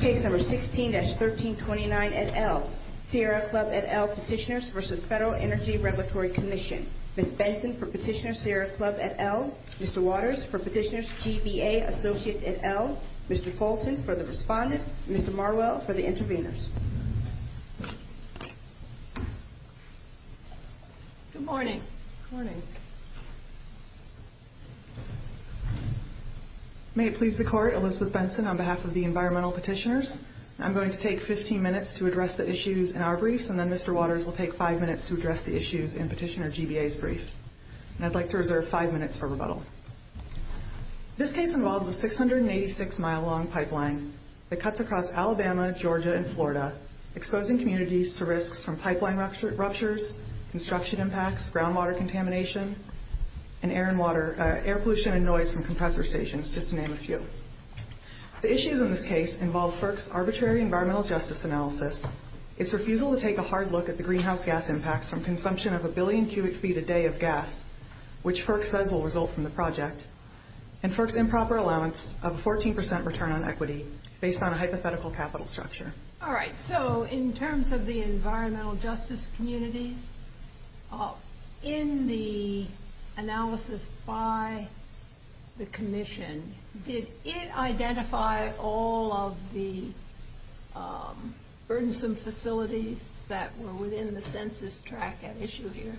16-1329 et al. Sierra Club et al. Petitioners v. Federal Energy Regulatory Commission. Ms. Benson for Petitioner's Sierra Club et al. Mr. Waters for Petitioner's GBA Associates et al. Mr. Fulton for the Respondents. Ms. Marwell for the Intervenors. Good morning. May it please the Court, Elizabeth Benson on behalf of the Environmental Petitioners. I'm going to take 15 minutes to address the issues in our brief and then Mr. Waters will take 5 minutes to address the issues in Petitioner's GBA brief. I'd like to reserve 5 minutes for rebuttal. This case involves a 686 mile long pipeline that cuts across Alabama, Georgia, and Florida exposing communities to risks from pipeline ruptures, construction impacts, groundwater contamination, and air pollution and noise from compressor stations, just to name a few. The issues of this case involve FERC's arbitrary environmental justice analysis, its refusal to take a hard look at the greenhouse gas impacts from consumption of a billion cubic feet a day of gas, which FERC says will result from the project, and FERC's improper allowance of a 14% return on equity based on a hypothetical capital structure. All right, so in terms of the environmental justice community, in the analysis by the Commission, did it identify all of the burdensome facilities that were within the census track at issue here?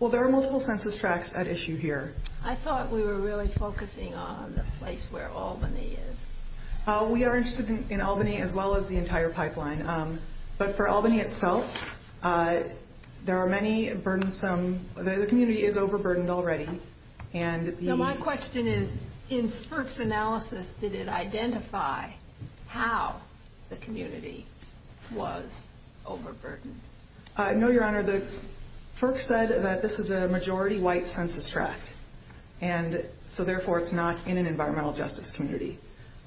Well, there are multiple census tracks at issue here. I thought we were really focusing on the place where Albany is. We are interested in Albany as well as the entire pipeline, but for Albany itself, there are many burdensome, the community is overburdened already. So my question is, in FERC's analysis, did it identify how the community was overburdened? No, Your Honor, FERC said that this is a majority white census track, and so therefore it's not in an environmental justice community,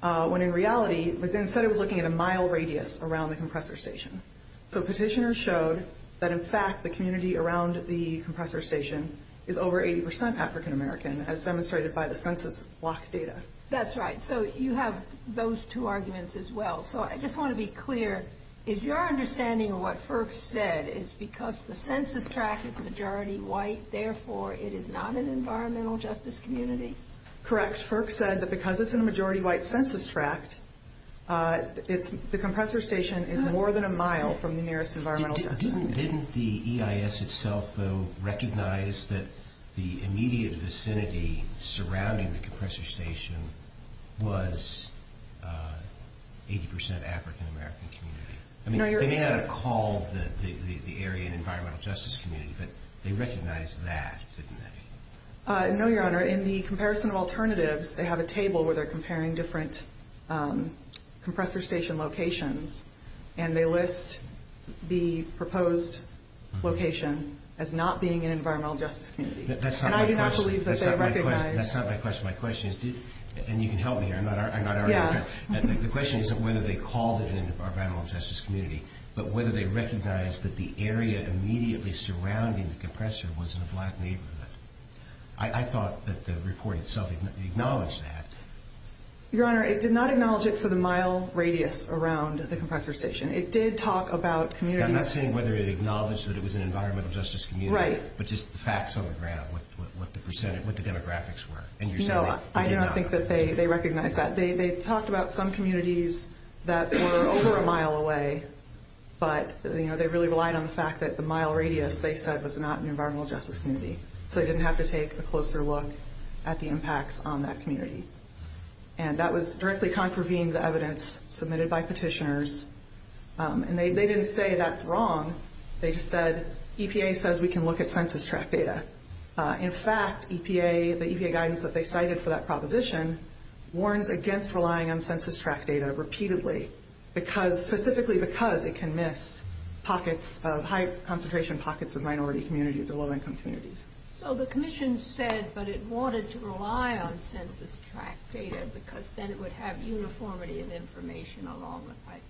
when in reality, they said it was looking at a mile radius around the compressor station. So petitioners showed that in fact the community around the compressor station is over 80% African American, as demonstrated by the census block data. That's right, so you have those two arguments as well. So I just want to be clear, is your understanding of what FERC said is because the census track is majority white, therefore it is not an environmental justice community? Correct. FERC said that because it's a majority white census track, the compressor station is more than a mile from the nearest environmental justice community. Didn't the EIS itself, though, recognize that the immediate vicinity surrounding the compressor station was 80% African American community? They may not have called the area an environmental justice community, but they recognized that, didn't they? No, Your Honor, in the comparison of alternatives, they have a table where they're comparing different compressor station locations, and they list the proposed location as not being an environmental justice community. That's not my question. My question is, and you can help me here, I'm not our expert. The question is whether they called it an environmental justice community, but whether they recognized that the area immediately surrounding the compressor was in a black neighborhood. I thought that the report itself acknowledged that. Your Honor, it did not acknowledge it for the mile radius around the compressor station. I'm not saying whether it acknowledged that it was an environmental justice community, but just the facts on the ground, what the demographics were. No, I do not think that they recognized that. They talked about some communities that were over a mile away, but they really relied on the fact that the mile radius, they said, was not an environmental justice community, so they didn't have to take a closer look at the impacts on that community. And that was directly contravening the evidence submitted by petitioners, and they didn't say that's wrong. They said, EPA says we can look at census tract data. In fact, the EPA guidance that they cited for that proposition warned against relying on census tract data repeatedly, specifically because it can miss pockets of high concentration pockets of minority communities or low-income communities. So the commission said that it wanted to rely on census tract data because then it would have uniformity in information along the pipeline.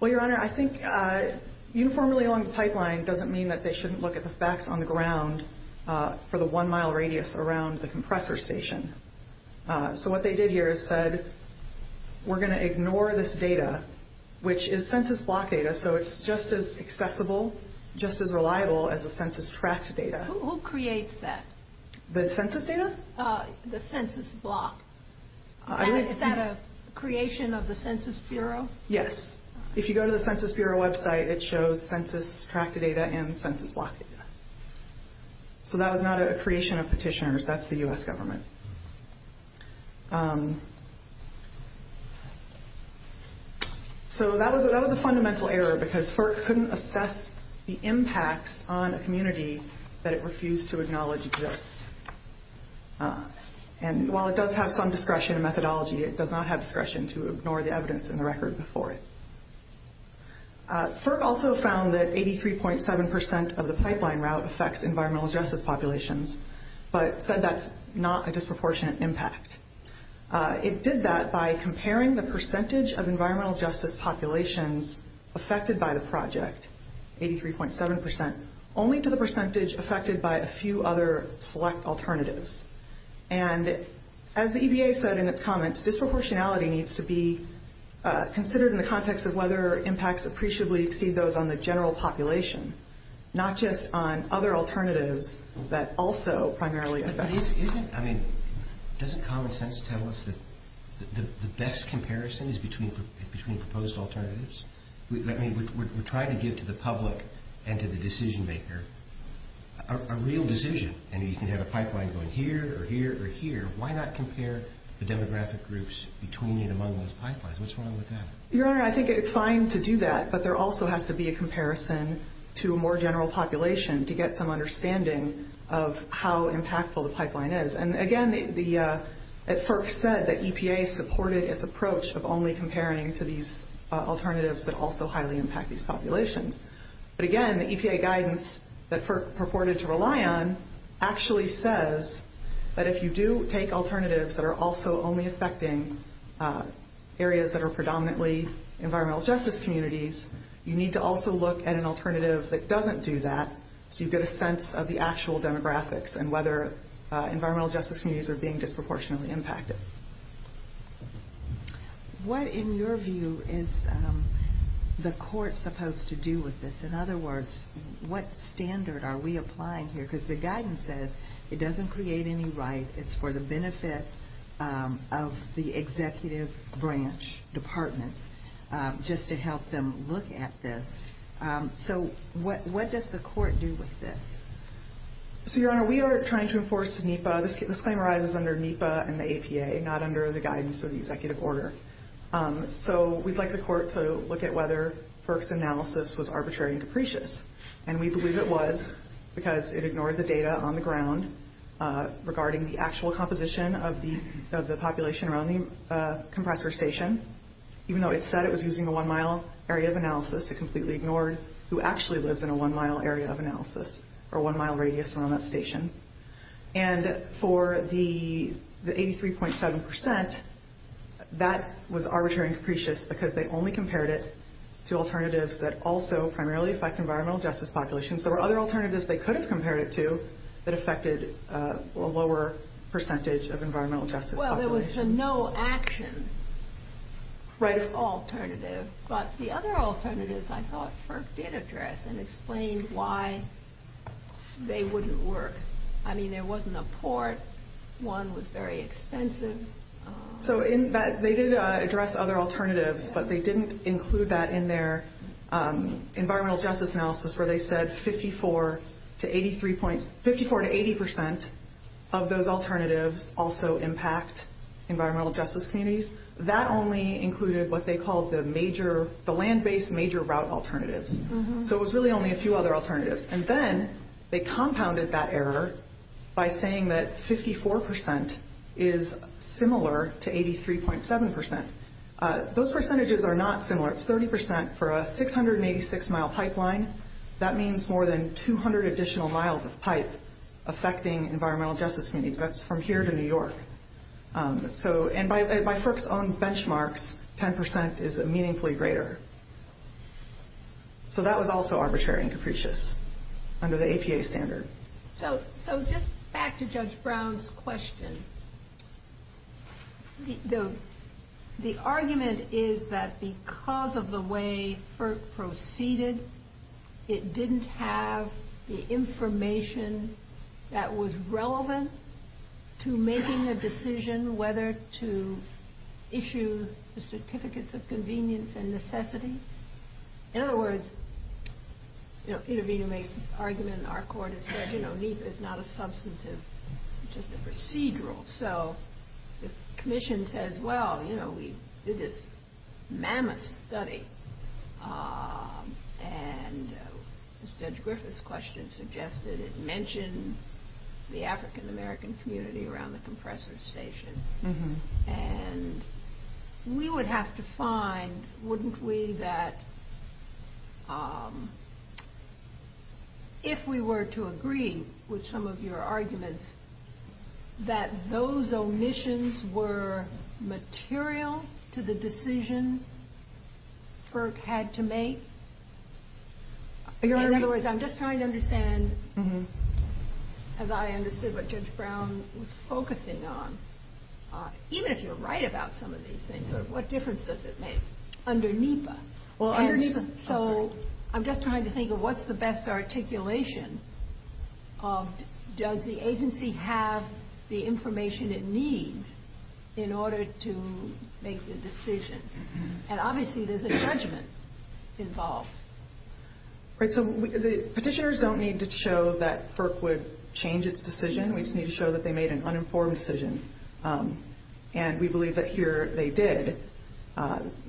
Well, Your Honor, I think uniformly along the pipeline doesn't mean that they shouldn't look at the facts on the ground for the one-mile radius around the compressor station. So what they did here is said, we're going to ignore this data, which is census block data, so it's just as acceptable, just as reliable as the census tract data. Who creates that? The census data? The census block. Is that a creation of the Census Bureau? Yes. If you go to the Census Bureau website, it shows census tract data and census block data. So that was not a creation of petitioners. That's the U.S. government. So that was a fundamental error because FERC couldn't assess the impact on a community that it refused to acknowledge exists. And while it does have some discretion and methodology, it does not have discretion to ignore the evidence in the record before it. FERC also found that 83.7% of the pipeline route affects environmental justice populations, but said that's not a disproportionate impact. It did that by comparing the percentage of environmental justice populations affected by the project, 83.7%, only to the percentage affected by a few other select alternatives. And as the EBA said in its comments, disproportionality needs to be considered in the context of whether impacts appreciably exceed those on the general population, not just on other alternatives that also primarily affect. I mean, doesn't common sense tell us that the best comparison is between proposed alternatives? I mean, we're trying to give to the public and to the decision maker a real decision. And you can have a pipeline going here or here or here. Why not compare the demographic groups between and among those pipelines? What's wrong with that? Your Honor, I think it's fine to do that, but there also has to be a comparison to a more general population to get some understanding of how impactful the pipeline is. And, again, the – as FERC said, the EPA supported its approach of only comparing to these alternatives that also highly impact these populations. But, again, the EPA guidance that FERC purported to rely on actually says that if you do take alternatives that are also only affecting areas that are predominantly environmental justice communities, you need to also look at an alternative that doesn't do that so you get a sense of the actual demographics and whether environmental justice communities are being disproportionately impacted. What, in your view, is the court supposed to do with this? In other words, what standard are we applying here? Because the guidance says it doesn't create any rights. It's for the benefit of the executive branch department just to help them look at this. So what does the court do with this? So, Your Honor, we are trying to enforce NEPA. This claim arises under NEPA and the EPA, not under the guidance of the executive order. So we'd like the court to look at whether FERC's analysis was arbitrary and depreciate. And we believe it was because it ignored the data on the ground regarding the actual composition of the population around the compressor station. Even though it said it was using a one-mile area of analysis, it completely ignored who actually lives in a one-mile area of analysis or one-mile radius around that station. And for the 83.7%, that was arbitrary and depreciate because they only compared it to alternatives that also primarily affect environmental justice populations. There were other alternatives they could have compared it to that affected a lower percentage of environmental justice populations. Well, it was a no-action alternative, but the other alternatives, I thought, FERC did address and explain why they wouldn't work. I mean, there wasn't a port. One was very expensive. So they did address other alternatives, but they didn't include that in their environmental justice analysis where they said 54 to 80% of those alternatives also impact environmental justice communities. That only included what they called the land-based major route alternatives. So it was really only a few other alternatives. And then they compounded that error by saying that 54% is similar to 83.7%. Those percentages are not similar. It's 30% for a 686-mile pipeline. That means more than 200 additional miles of pipe affecting environmental justice communities. That's from here to New York. And by FERC's own benchmark, 10% is meaningfully greater. So that was also arbitrary and capricious under the APA standard. So just back to Judge Brown's question. The argument is that because of the way FERC proceeded, it didn't have the information that was relevant to making a decision whether to issue the Certificates of Convenience and Necessity. In other words, intervening-based argument in our court, it said NEPA is not a substantive, it's just a procedural. So the commission says, well, you know, we did this mammoth study. And Judge Griffith's question suggested it mentioned the African-American community around the compressor station. And we would have to find, wouldn't we, that if we were to agree with some of your arguments, that those omissions were material to the decision FERC had to make? In other words, I'm just trying to understand, as I understood what Judge Brown was focusing on, even if you're right about some of these things, what difference does it make underneath us? So I'm just trying to think of what's the best articulation of, does the agency have the information it needs in order to make the decision? And obviously there's a judgment involved. So petitioners don't need to show that FERC would change its decision. We just need to show that they made an uninformed decision. And we believe that here they did. When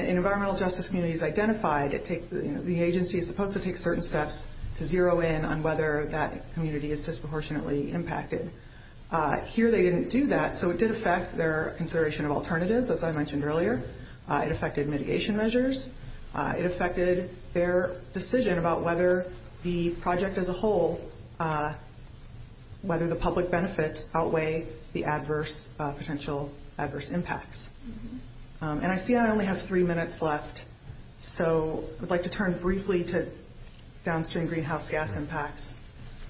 an environmental justice community is identified, the agency is supposed to take certain steps to zero in on whether that community is disproportionately impacted. Here they didn't do that. So it did affect their consideration of alternatives, as I mentioned earlier. It affected mitigation measures. It affected their decision about whether the project as a whole, whether the public benefits outweigh the adverse, potential adverse impacts. And I see I only have three minutes left. So I'd like to turn briefly to downstream greenhouse gas impacts.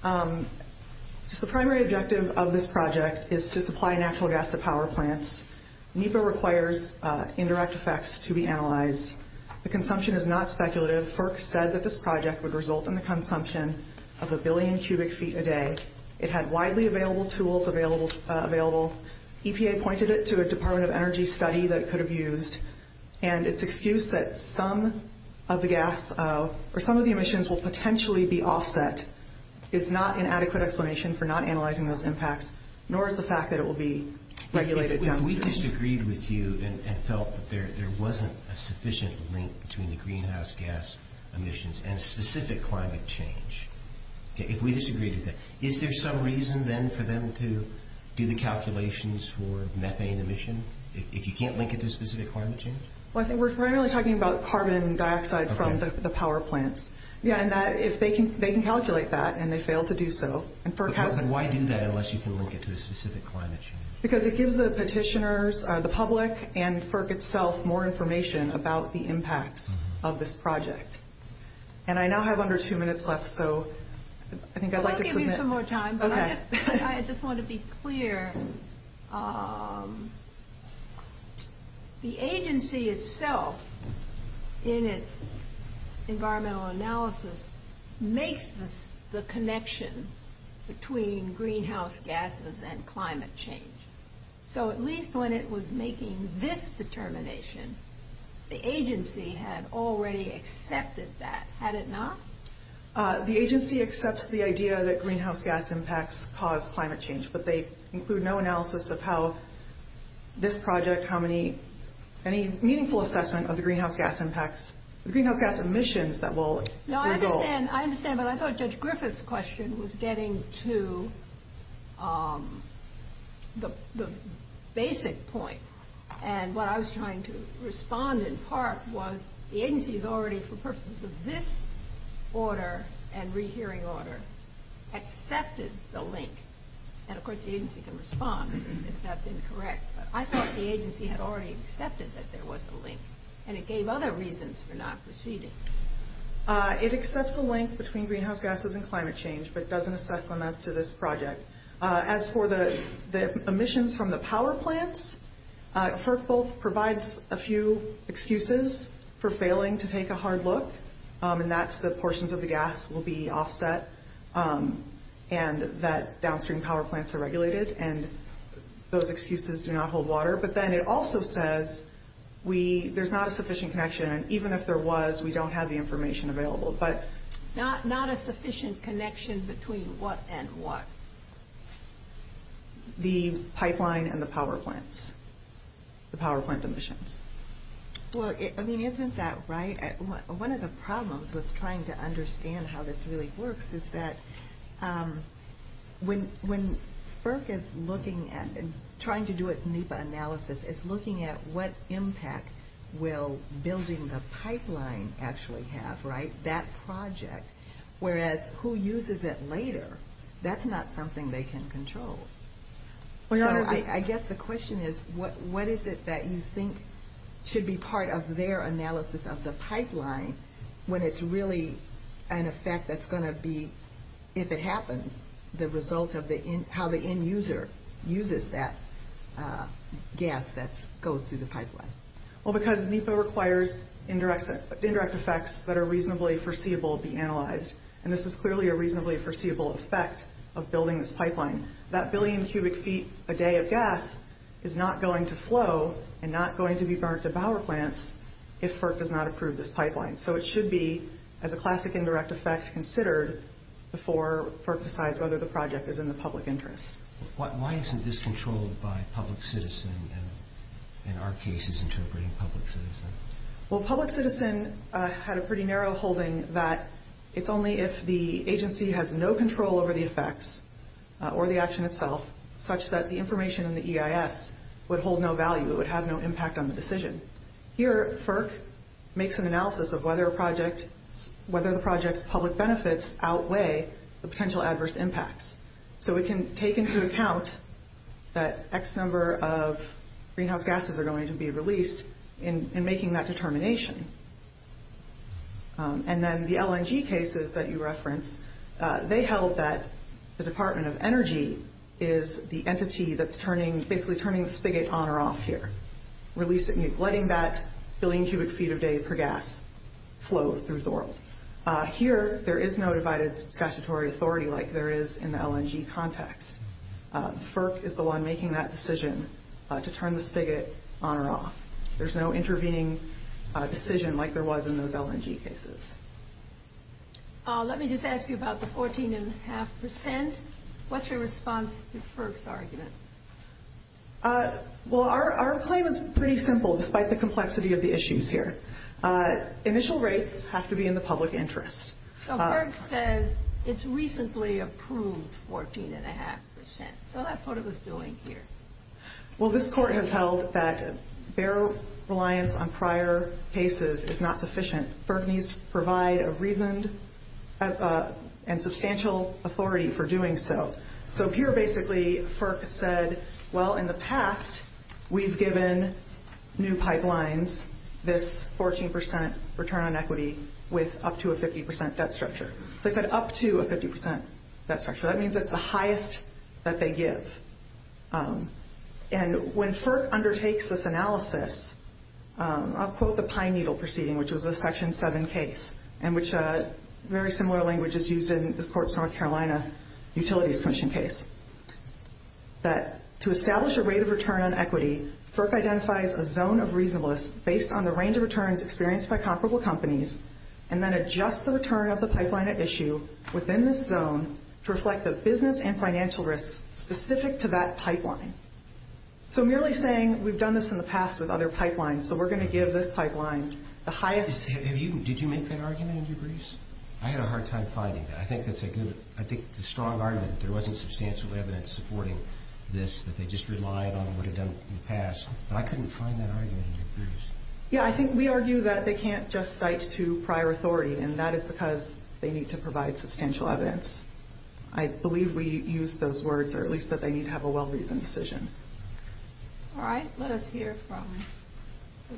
The primary objective of this project is to supply natural gas to power plants. NEPA requires indirect effects to be analyzed. The consumption is not speculative. FERC said that this project would result in the consumption of a billion cubic feet a day. It had widely available tools available. EPA pointed it to a Department of Energy study that it could have used. And it's excused that some of the gas or some of the emissions will potentially be offset. It's not an adequate explanation for not analyzing those impacts, nor is the fact that it will be regulated downstream. If we disagreed with you and felt that there wasn't a sufficient link between the greenhouse gas emissions and specific climate change, if we disagreed with that, is there some reason then for them to do the calculations for methane emission? If you can't link it to specific climate change? Well, I think we're primarily talking about carbon dioxide from the power plants. Yeah, and they can calculate that, and they failed to do so. And why do that unless you can link it to a specific climate change? Because it gives the petitioners, the public, and FERC itself, more information about the impacts of this project. And I now have under two minutes left, so I think I'd like to... I'll give you some more time, but I just want to be clear. The agency itself, in its environmental analysis, makes the connection between greenhouse gases and climate change. So at least when it was making this determination, the agency had already accepted that, had it not? The agency accepts the idea that greenhouse gas impacts cause climate change, but they include no analysis of how this project, any meaningful assessment of the greenhouse gas impacts, the greenhouse gas emissions that will result. No, I understand, but I thought Judge Griffith's question was getting to the basic point. And what I was trying to respond in part was, the agency has already, for purposes of this order and rehearing order, accepted the link. And, of course, the agency can respond if that's incorrect, but I thought the agency had already accepted that there was a link, and it gave other reasons for not proceeding. It accepts the link between greenhouse gases and climate change, but doesn't assess them as to this project. As for the emissions from the power plants, FERC both provides a few excuses for failing to take a hard look, and that's the portions of the gas will be offset, and that downstream power plants are regulated, and those excuses do not hold water. But then it also says there's not a sufficient connection, and even if there was, we don't have the information available. Not a sufficient connection between what and what? The pipeline and the power plants, the power plant emissions. Well, isn't that right? One of the problems with trying to understand how this really works is that when FERC is looking at and trying to do a NEPA analysis, it's looking at what impact will building the pipeline actually have, right, that project, whereas who uses it later, that's not something they can control. I guess the question is, what is it that you think should be part of their analysis of the pipeline when it's really an effect that's going to be, if it happens, the result of how the end user uses that gas that goes through the pipeline? Well, because NEPA requires indirect effects that are reasonably foreseeable to be analyzed, and this is clearly a reasonably foreseeable effect of building this pipeline. That billion cubic feet a day of gas is not going to flow and not going to be burnt at power plants if FERC does not approve this pipeline. So it should be as a classic indirect effect considered before FERC decides whether the project is in the public interest. Why isn't this controlled by public citizen and in our cases interpreting public citizen? Well, public citizen had a pretty narrow holding that it's only if the agency has no control over the effects or the action itself such that the information in the EIS would hold no value. It would have no impact on the decision. Here, FERC makes an analysis of whether the project's public benefits outweigh the potential adverse impacts. So it can take into account that X number of greenhouse gases are going to be released in making that determination. And then the LNG cases that you referenced, they held that the Department of Energy is the entity that's turning, basically turning the spigot on or off here, letting that billion cubic feet a day per gas flow through Zorro. Here, there is no divided statutory authority like there is in the LNG context. FERC is the one making that decision to turn the spigot on or off. There's no intervening decision like there was in those LNG cases. Let me just ask you about the 14.5%. What's your response to FERC's argument? Well, our claim is pretty simple despite the complexity of the issues here. Initial rates have to be in the public interest. So FERC says it's recently approved 14.5%. So that's what it was doing here. Well, this court has held that their reliance on prior cases is not sufficient. FERC needs to provide a reason and substantial authority for doing so. So here, basically, FERC said, well, in the past, we've given new pipelines this 14% return on equity with up to a 50% debt structure. They said up to a 50% debt structure. That means it's the highest that they give. And when FERC undertakes this analysis, I'll quote the Pine Needle proceeding, which was the Section 7 case, in which a very similar language is used in this court's North Carolina utilities commission case. That to establish a rate of return on equity, FERC identifies a zone of reasonableness based on the range of returns experienced by comparable companies and then adjusts the return of the pipeline at issue within this zone to reflect the business and financial risks specific to that pipeline. So merely saying we've done this in the past with other pipelines, and so we're going to give this pipeline the highest. Did you make that argument in your briefs? I had a hard time finding that. I think the strong argument that there wasn't substantial evidence supporting this, that they just relied on what had been done in the past, but I couldn't find that argument in your briefs. Yeah, I think we argue that they can't just cite to prior authority, and that is because they need to provide substantial evidence. I believe we used those words, or at least that they need to have a well-reasoned decision. All right. Let us hear from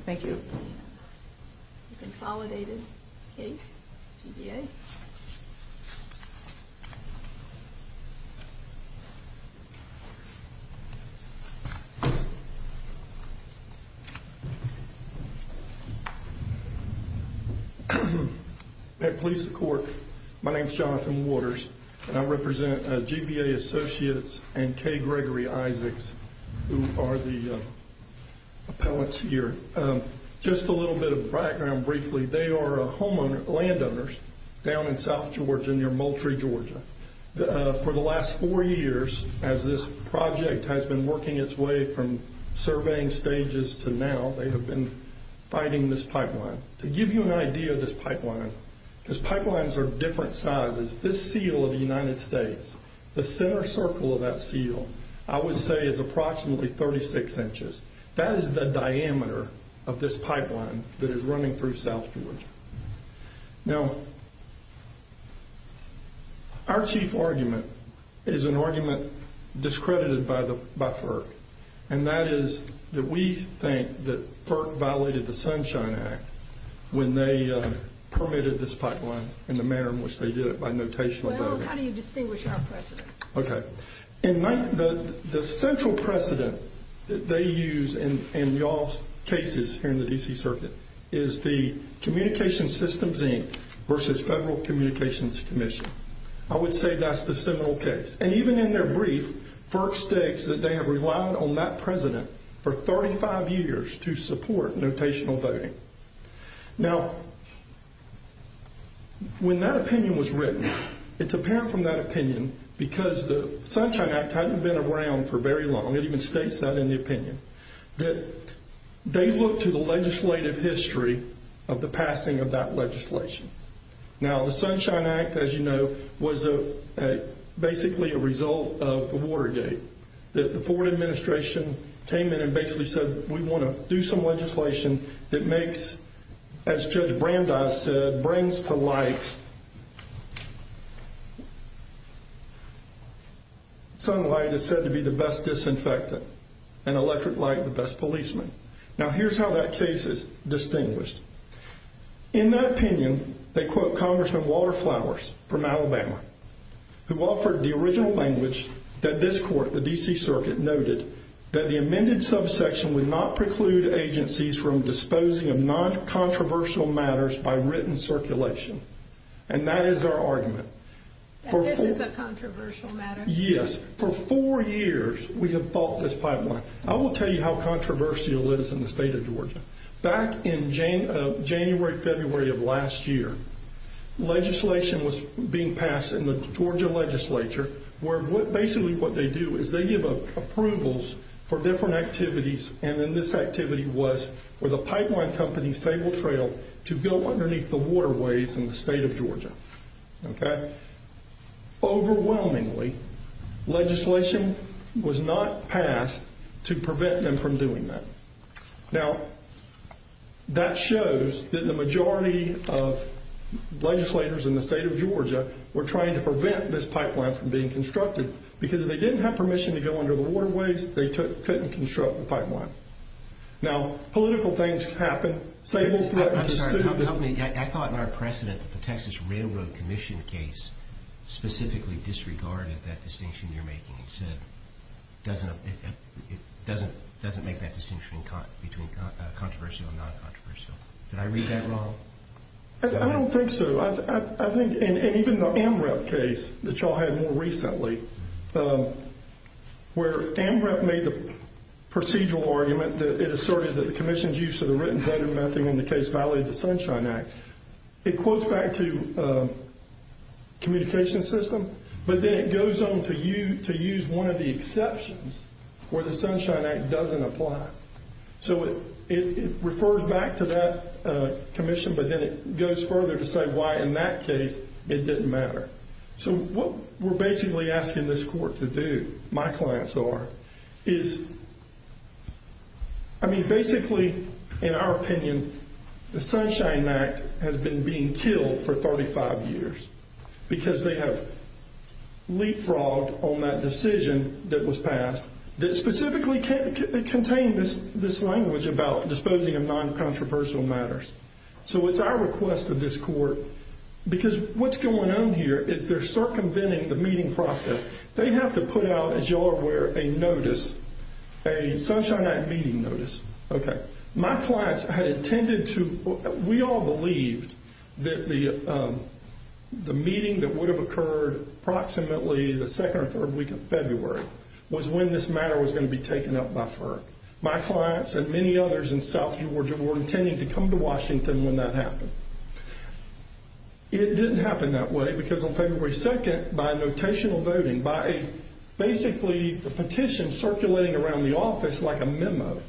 the consolidated case, GBA. At police court, my name is Jonathan Waters, and I represent GBA Associates and Kay Gregory Isaacs, who are the appellants here. Just a little bit of background briefly. They are landowners down in south Georgia near Moultrie, Georgia. For the last four years, as this project has been working its way from surveying stages to now, they have been fighting this pipeline. To give you an idea of this pipeline, because pipelines are different sizes, this seal of the United States, the center circle of that seal, I would say is approximately 36 inches. That is the diameter of this pipeline that is running through south Georgia. Now, our chief argument is an argument discredited by FERC, and that is that we think that FERC violated the Sunshine Act when they permitted this pipeline in the manner in which they did it by notational voting. How do you distinguish our precedent? Okay. The central precedent that they use in y'all's cases in the D.C. Circuit is the Communications Systems Inc. versus Federal Communications Commission. I would say that is the seminal case. And even in their brief, FERC states that they have relied on that precedent for 35 years to support notational voting. Now, when that opinion was written, it's apparent from that opinion, because the Sunshine Act hadn't been around for very long, it even states that in the opinion, that they look to the legislative history of the passing of that legislation. Now, the Sunshine Act, as you know, was basically a result of Watergate. The Ford administration came in and basically said, we want to do some legislation that makes, as Judge Brandeis said, brings to life sunlight that's said to be the best disinfectant, and electric light the best policeman. Now, here's how that case is distinguished. In that opinion, they quote Congressman Waterflowers from Alabama, who offered the original language that this court, the D.C. Circuit, noted, that the amended subsection would not preclude agencies from disposing of non-controversial matters by written circulation. And that is our argument. And this is a controversial matter? Yes. For four years, we have fought this pipeline. I will tell you how controversial it is in the state of Georgia. Back in January, February of last year, legislation was being passed in the Georgia legislature, where basically what they do is they give approvals for different activities, and then this activity was for the pipeline company, Fable Trail, to go underneath the waterways in the state of Georgia. Okay? Overwhelmingly, legislation was not passed to prevent them from doing that. Now, that shows that the majority of legislators in the state of Georgia were trying to prevent this pipeline from being constructed, because if they didn't have permission to go under the waterways, they couldn't construct the pipeline. Now, political things happen. Fable Trail is a student of this. I'm sorry. Help me. I thought in our precedent that the Texas Railroad Commission case specifically disregarded that distinction you're making. It doesn't make that distinction between controversial and non-controversial. Did I read that wrong? I don't think so. I think in even the AMREP case that you all had more recently, where AMREP made the procedural argument that it asserted that the commission's use of the written statement of nothing in the case violated the Sunshine Act. It quotes back to communication system, but then it goes on to use one of the exceptions where the Sunshine Act doesn't apply. So it refers back to that commission, but then it goes further to say why in that case it didn't matter. So what we're basically asking this court to do, my clients are, is, I mean, basically, in our opinion, the Sunshine Act has been being killed for 35 years because they have leapfrogged on that decision that was passed that specifically contained this language about disposing of non-controversial matters. So it's our request of this court, because what's going on here is they're circumventing the meeting process. They have to put out, as you all are aware, a notice, a Sunshine Act meeting notice. Okay. My clients had intended to, we all believed that the meeting that would have occurred approximately the second or third week of February was when this matter was going to be taken up by FERC. My clients and many others in South Georgia were intending to come to Washington when that happened. It didn't happen that way, because on February 2nd, by notational voting, by basically the petition circulating around the office like a memo,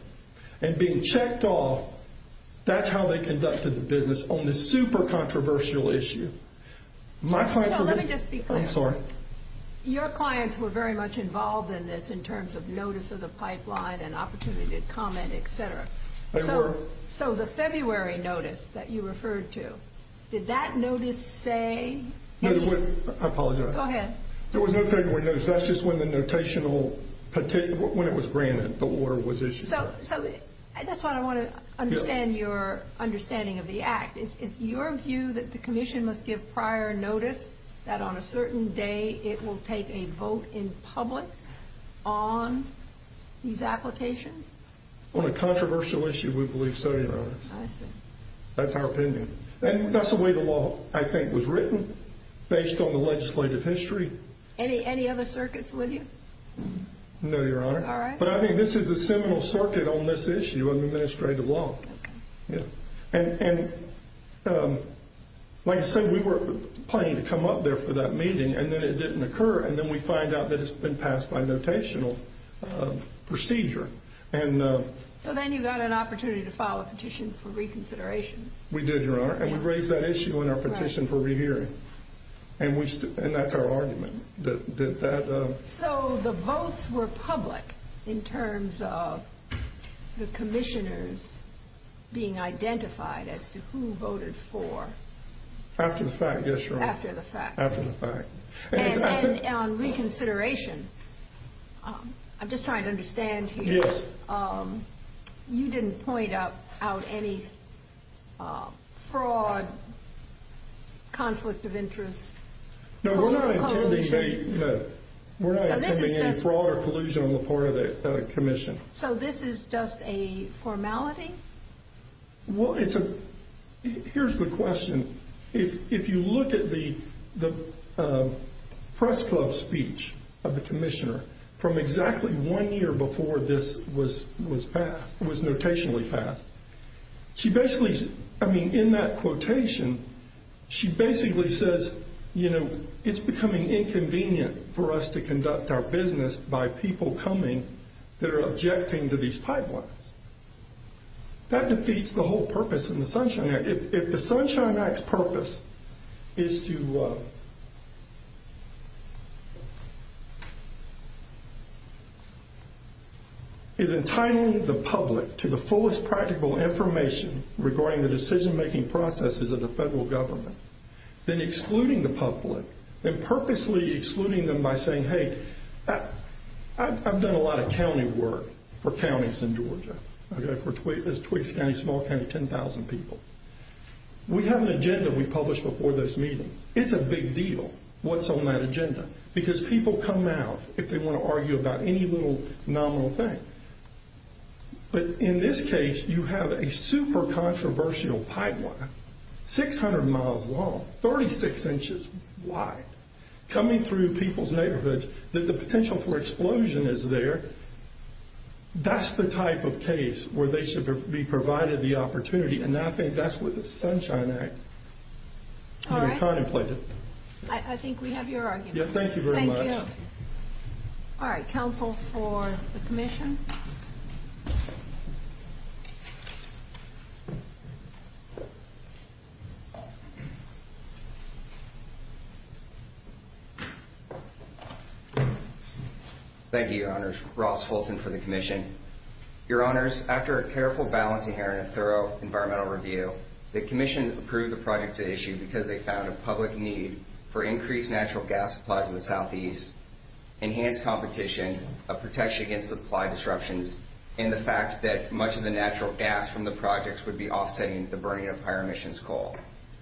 and being checked off, that's how they conducted the business on this super-controversial issue. Let me just be clear. I'm sorry. Your clients were very much involved in this in terms of notice of the pipeline and opportunity to comment, et cetera. They were. So the February notice that you referred to, did that notice say? I apologize. Go ahead. There was no February notice. That's just when the notational, when it was granted, the order was issued. So that's what I want to understand your understanding of the Act. Is it your view that the Commission must give prior notice that on a certain day it will take a vote in public on these applications? On a controversial issue, we believe so, Your Honor. I see. That's our opinion. And that's the way the law, I think, was written, based on the legislative history. Any other circuits, would you? No, Your Honor. All right. But I think this is the seminal circuit on this issue in administrative law. And like I said, we were planning to come up there for that meeting, and then it didn't occur, and then we find out that it's been passed by notational procedure. So then you got an opportunity to file a petition for reconsideration. We did, Your Honor. And we raised that issue in our petition for re-hearing. And that's our argument. So the votes were public in terms of the commissioners being identified as to who voted for. After the fact, yes, Your Honor. After the fact. After the fact. And on reconsideration, I'm just trying to understand here. Yes. You didn't point out any fraud, conflicts of interest. No, we're not intending any fraud or collusion on the part of the commission. So this is just a formality? Well, it's a – here's the question. If you look at the press club speech of the commissioner from exactly one year before this was notationally passed, she basically – I mean, in that quotation, she basically says, you know, it's becoming inconvenient for us to conduct our business by people coming that are objecting to these pipelines. That defeats the whole purpose of the Sunshine Act. If the Sunshine Act's purpose is to – is entitling the public to the fullest practical information regarding the decision-making processes of the federal government, then excluding the public and purposely excluding them by saying, hey, I've done a lot of county work for counties in Georgia. I've done it for Twiggy County, Small County, 10,000 people. We have an agenda we published before this meeting. It's a big deal what's on that agenda. Because people come out if they want to argue about any little nominal thing. But in this case, you have a super-controversial pipeline, 600 miles long, 36 inches wide, coming through people's neighborhoods, that the potential for explosion is there. That's the type of case where they should be provided the opportunity. And I think that's what the Sunshine Act – All right. I think we have your argument. Thank you very much. Thank you. All right. Counsel for submission. Thank you. Thank you, Your Honors. Ross Fulton for the commission. Your Honors, after a careful, balanced, and thorough environmental review, the commission approved the project at issue because they found a public need for increased natural gas supplies in the southeast, enhanced competition of protection against supply disruptions, and the fact that much of the natural gas from the projects would be offsetting the burning of higher emissions coal.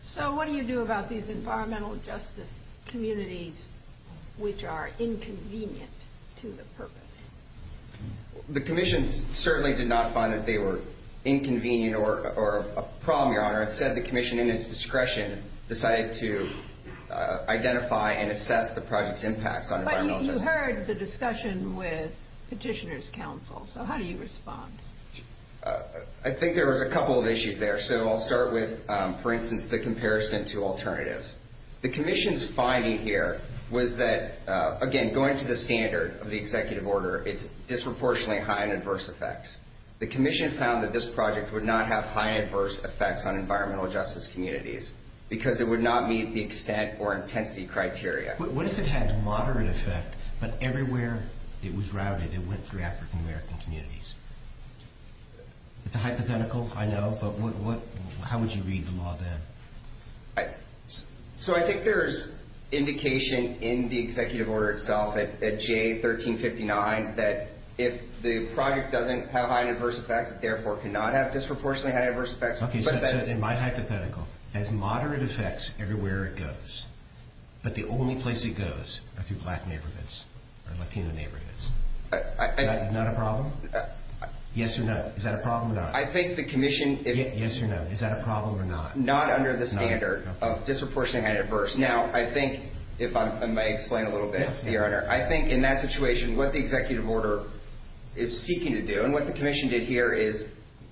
So what do you do about these environmental justice communities which are inconvenient to the purpose? The commission certainly did not find that they were inconvenient or a problem, Your Honor. As I said, the commission, in its discretion, decided to identify and assess the project's impact on environmental justice. But you heard the discussion with petitioners' counsel. So how do you respond? I think there was a couple of issues there. So I'll start with, for instance, the comparison to alternatives. The commission's finding here was that, again, going to the standard of the executive order, it's disproportionately high in adverse effects. The commission found that this project would not have high adverse effects on environmental justice communities because it would not meet the extent or intensity criteria. But what if it had moderate effect but everywhere it was routed it went through African-American communities? It's a hypothetical, I know, but how would you read the law then? So I think there's indication in the executive order itself at GA1359 that if the project doesn't have high adverse effects, it therefore cannot have disproportionately high adverse effects. Okay, so in my hypothetical, it has moderate effects everywhere it goes, but the only place it goes are through black neighborhoods or Latino neighborhoods. Is that not a problem? Yes or no? Is that a problem or not? I think the commission... Yes or no? Is that a problem or not? Not under the standard of disproportionately high adverse. Now, I think, if I may explain a little bit here, I think in that situation, what the executive order is seeking to do and what the commission did here is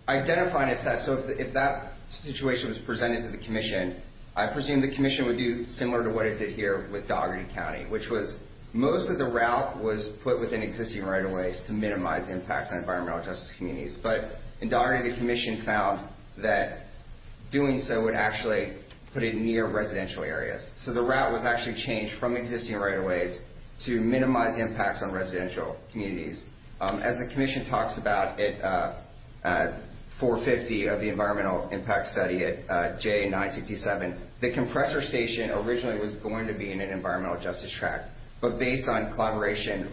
identifying a set. So if that situation was presented to the commission, I presume the commission would do similar to what it did here with Dougherty County, which was most of the route was put within existing right-of-ways to minimize impact on environmental justice communities. But in Dougherty, the commission found that doing so would actually put it near residential areas. So the route was actually changed from existing right-of-ways to minimize impacts on residential communities. As the commission talks about at 450 of the environmental impact study at J967, the compressor station originally was going to be in an environmental justice track, but based on collaboration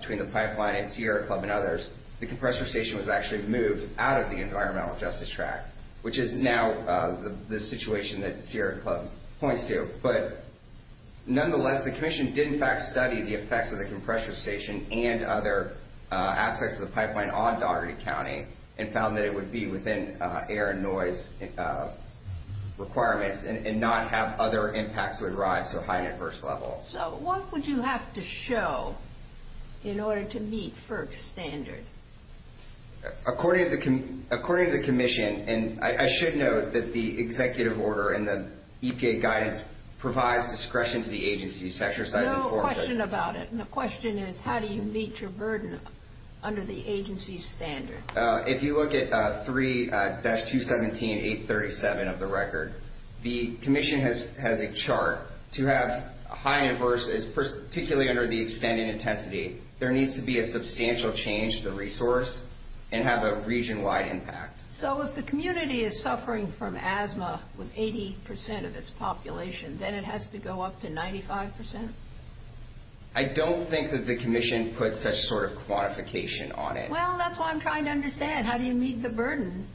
between the pipeline and Sierra Club and others, the compressor station was actually moved out of the environmental justice track, which is now the situation that Sierra Club points to. But nonetheless, the commission did, in fact, study the effects of the compressor station and other aspects of the pipeline on Dougherty County and found that it would be within air and noise requirements and not have other impacts that would rise to a high adverse level. So what would you have to show in order to meet FERC standards? According to the commission, and I should note that the executive order and the EPA guidance provides discretion to the agency. There's no question about it, and the question is how do you meet your burden under the agency's standards? If you look at 3-217-837 of the record, the commission has a chart to have high adverse, particularly under the expanding intensity. There needs to be a substantial change to resource and have a region-wide impact. So if the community is suffering from asthma with 80% of its population, then it has to go up to 95%? I don't think that the commission puts a sort of quantification on it. Well, that's what I'm trying to understand. And how do you meet the burden?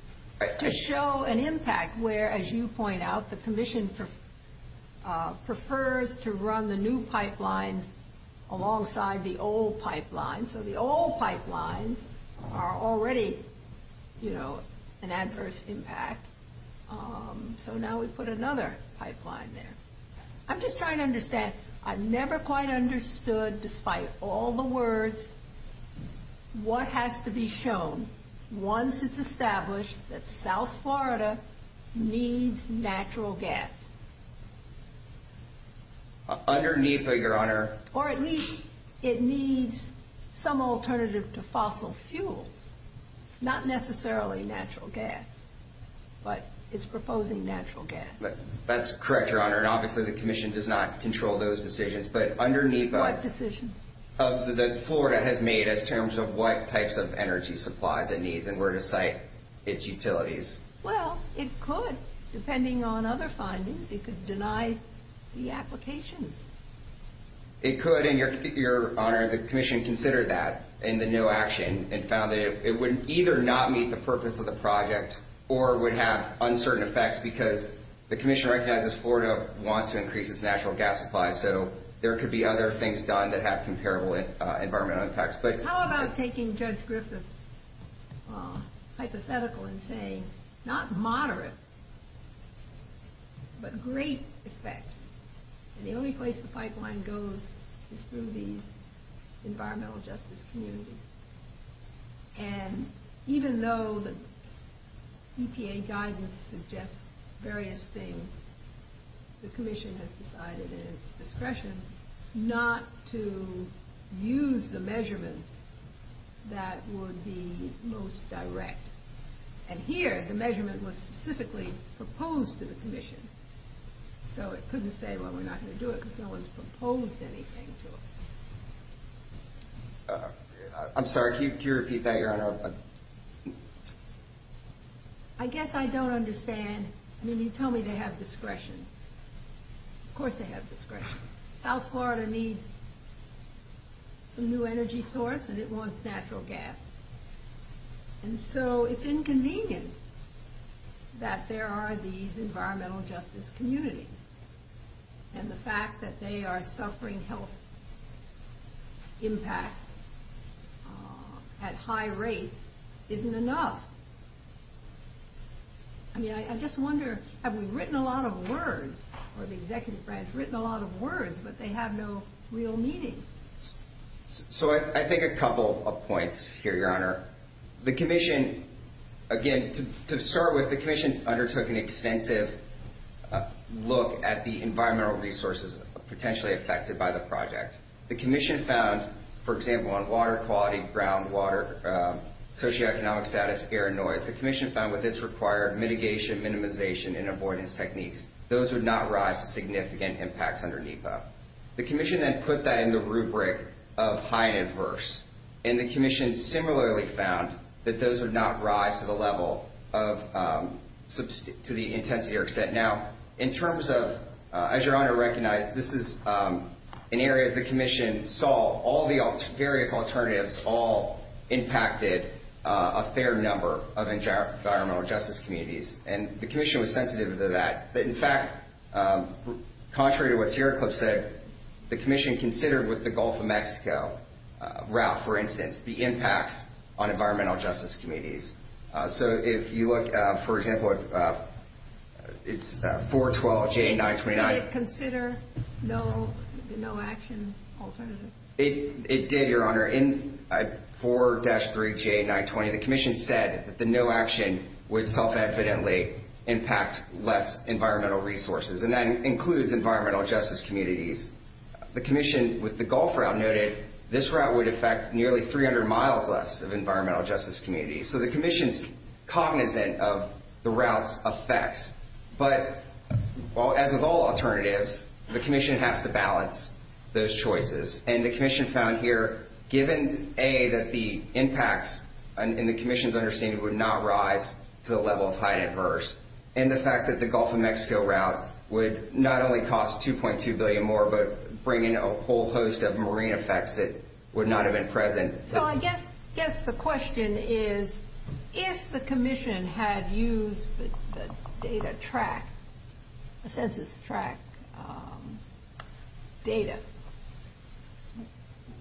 To show an impact where, as you point out, the commission prefers to run the new pipeline alongside the old pipeline. So the old pipelines are already, you know, an adverse impact. So now we put another pipeline there. I'm just trying to understand. I've never quite understood, despite all the words, what has to be shown once it's established that South Florida needs natural gas. Underneath it, Your Honor. Or at least it needs some alternative to fossil fuels. Not necessarily natural gas, but it's proposing natural gas. That's correct, Your Honor. And obviously the commission does not control those decisions. But underneath that. What decisions? That Florida has made in terms of what types of energy supplies it needs and where to site its utilities. Well, it could. Depending on other findings, it could deny the application. It could, Your Honor. The commission considered that in the new action and found that it would either not meet the purpose of the project or would have uncertain effects because the commission recognizes Florida wants to increase its natural gas supply. So there could be other things done that have comparable environmental impacts. But how about taking Judge Griffith's hypothetical and saying not moderate, but great effects. And the only place the pipeline goes is through the environmental justice community. And even though the EPA guidance suggests various things, the commission has decided in its discretion not to use the measurement that would be most direct. And here, the measurement was specifically proposed to the commission. So it couldn't say, well, we're not going to do it because no one's proposed anything to it. I'm sorry, could you repeat that, Your Honor? I guess I don't understand. I mean, you tell me they have discretion. Of course they have discretion. South Florida needs a new energy source and it wants natural gas. And so it's inconvenient that there are these environmental justice communities and the fact that they are suffering health impacts at high rates isn't enough. I mean, I just wonder, have we written a lot of words, or the executive branch has written a lot of words, but they have no real meaning. So I think a couple of points here, Your Honor. The commission, again, to start with, the commission undertook an extensive look at the environmental resources potentially affected by the project. The commission found, for example, on water quality, groundwater, socioeconomic status, air and noise, the commission found that this required mitigation, minimization, and avoidance techniques. Those would not rise to significant impacts underneath that. The commission then put that in the rubric of high and adverse, and the commission similarly found that those would not rise to the intensity or extent. Now, in terms of, as Your Honor recognized, this is an area the commission saw all the area alternatives all impacted a fair number of environmental justice communities, and the commission was sensitive to that. In fact, contrary to what Sierra Club said, the commission considered with the Gulf of Mexico route, for instance, the impact on environmental justice communities. So if you look, for example, it's 412J929. Did it consider no action alternatives? It did, Your Honor. In 4-3J920, the commission said that the no action would self-evidently impact less environmental resources, and that includes environmental justice communities. The commission with the Gulf route noted this route would affect nearly 300 miles less of environmental justice communities. So the commission's cognizant of the route's effects, but as with all alternatives, the commission has to balance those choices, and the commission found here, given A, that the impacts, and the commission's understanding would not rise to the level of high and adverse, and the fact that the Gulf of Mexico route would not only cost $2.2 billion more, but bring in a whole host of marine effects that would not have been present. Well, I guess the question is, if the commission had used the data track, the census track data,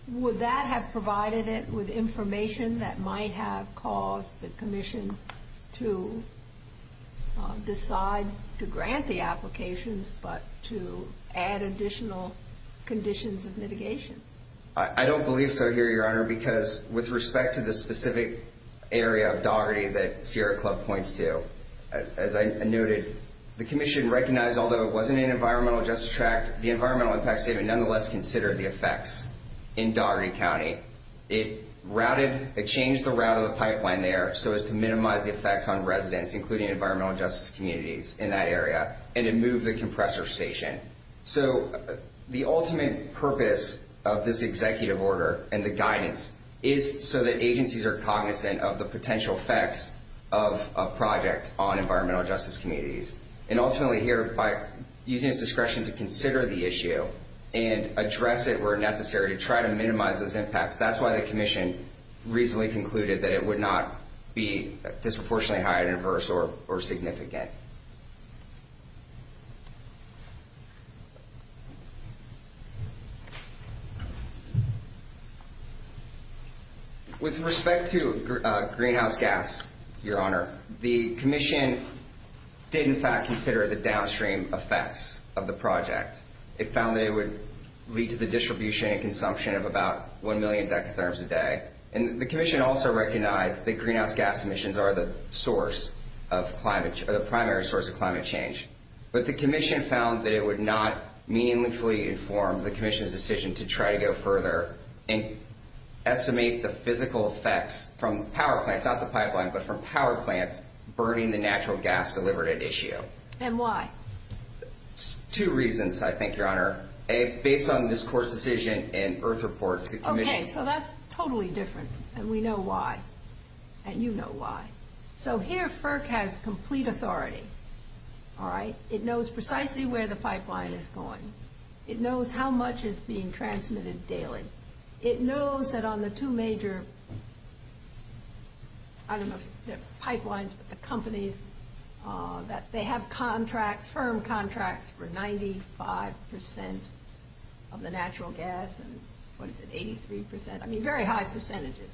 would that have provided it with information that might have caused the commission to decide to grant the applications, but to add additional conditions of mitigation? I don't believe so here, Your Honor, because with respect to the specific area of Dougherty that Sierra Club points to, as I noted, the commission recognized, although it wasn't an environmental justice track, the environmental impacts data nonetheless considered the effects in Dougherty County. It changed the route of the pipeline there so as to minimize the effects on residents, including environmental justice communities in that area, and it moved the compressor station. So the ultimate purpose of this executive order and the guidance is so that agencies are cognizant of the potential effects of a project on environmental justice communities, and ultimately here by using discretion to consider the issue and address it where necessary to try to minimize those impacts. That's why the commission reasonably concluded that it would not be With respect to greenhouse gas, Your Honor, the commission did, in fact, consider the downstream effects of the project. It found that it would lead to the distribution and consumption of about 1 million decatherms a day, and the commission also recognized that greenhouse gas emissions are the primary source of climate change, but the commission found that it would not meaningfully inform the commission's decision to try to go further and estimate the physical effects from power plants, not the pipeline, but from power plants, burning the natural gas delivered at issue. And why? Two reasons, I think, Your Honor. Based on this court's decision and earth reports, Okay, so that's totally different, and we know why, and you know why. So here FERC has complete authority, all right? It knows precisely where the pipeline is going. It knows how much is being transmitted daily. It knows that on the two major, I don't know, pipelines, the companies, that they have contracts, firm contracts, for 95% of the natural gas and 83%, I mean, very high percentages.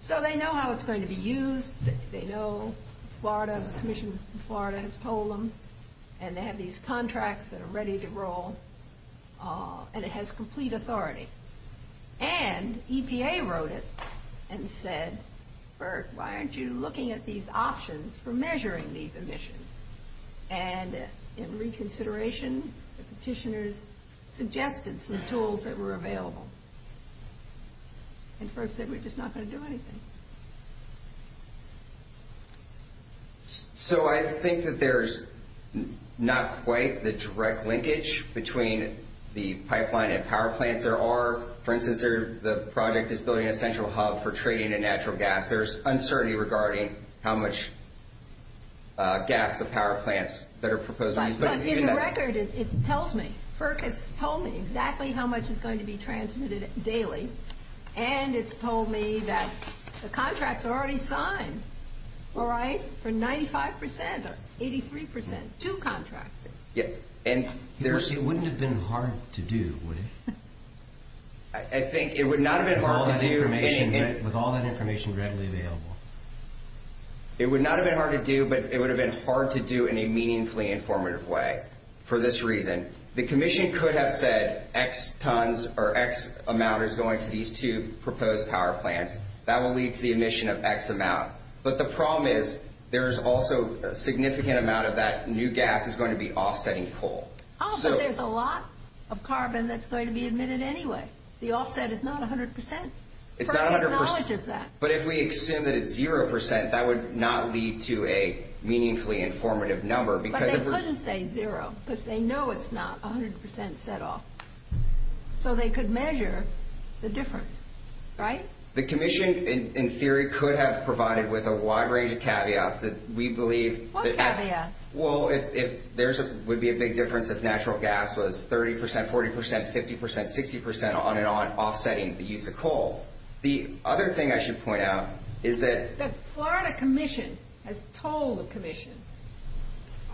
So they know how it's going to be used. They know Florida, the commission in Florida has told them, and they have these contracts that are ready to roll, and it has complete authority. And EPA wrote it and said, FERC, why aren't you looking at these options for measuring these emissions? And in reconsideration, petitioners suggested some tools that were available. And FERC said, we're just not going to do anything. So I think that there's not quite the direct linkage between the pipeline and power plant there are. For instance, the project is building a central hub for trading in natural gas. In fact, there's uncertainty regarding how much gas the power plants that are proposing. In the record, it tells me, FERC has told me exactly how much is going to be transmitted daily, and it's told me that the contracts are already signed, right, for 95% or 83%, two contracts. Yep. It wouldn't have been hard to do, would it? I think it would not have been hard to do. With all that information readily available. It would not have been hard to do, but it would have been hard to do in a meaningfully informative way for this reason. The commission could have said X tons or X amount is going to these two proposed power plants. That will lead to the emission of X amount. But the problem is there is also a significant amount of that new gas is going to be offsetting coal. Oh, so there's a lot of carbon that's going to be emitted anyway. The offset is not 100%. It's not 100%. I acknowledge that. But if we assume that it's 0%, that would not lead to a meaningfully informative number. But they couldn't say 0% because they know it's not 100% set off. So they could measure the difference, right? The commission, in theory, could have provided with a wide range of caveats that we believe. What caveats? Well, if there would be a big difference if natural gas was 30%, 40%, 50%, 60% on and on, offsetting the use of coal. The other thing I should point out is that the Florida commission has told the commission,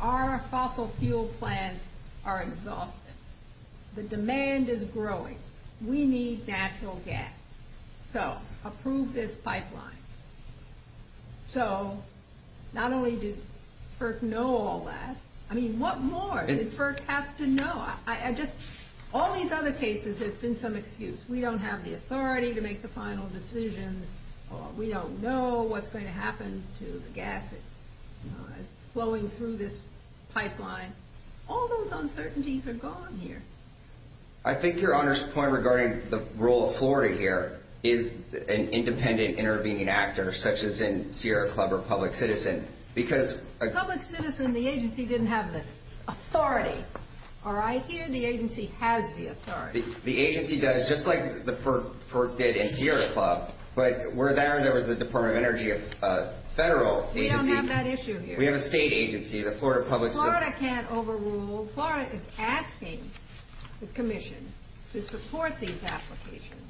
our fossil fuel plants are exhausted. The demand is growing. We need natural gas. So approve this pipeline. So not only does FERC know all that. I mean, what more did FERC have to know? All these other cases have been some excuse. We don't have the authority to make the final decision. We don't know what's going to happen to the gas that's flowing through this pipeline. All those uncertainties are gone here. I think your Honor's point regarding the role of Florida here is an independent intervening actor, such as in Sierra Club or Public Citizen. Public Citizen, the agency didn't have the authority. Are I here? The agency has the authority. The agency does, just like FERC did in Sierra Club. But we're there, and there was the Department of Energy, a federal agency. We don't have that issue here. We have a state agency, the Florida Public Citizen. Florida can't overrule. Well, Florida is asking the Commission to support these applications.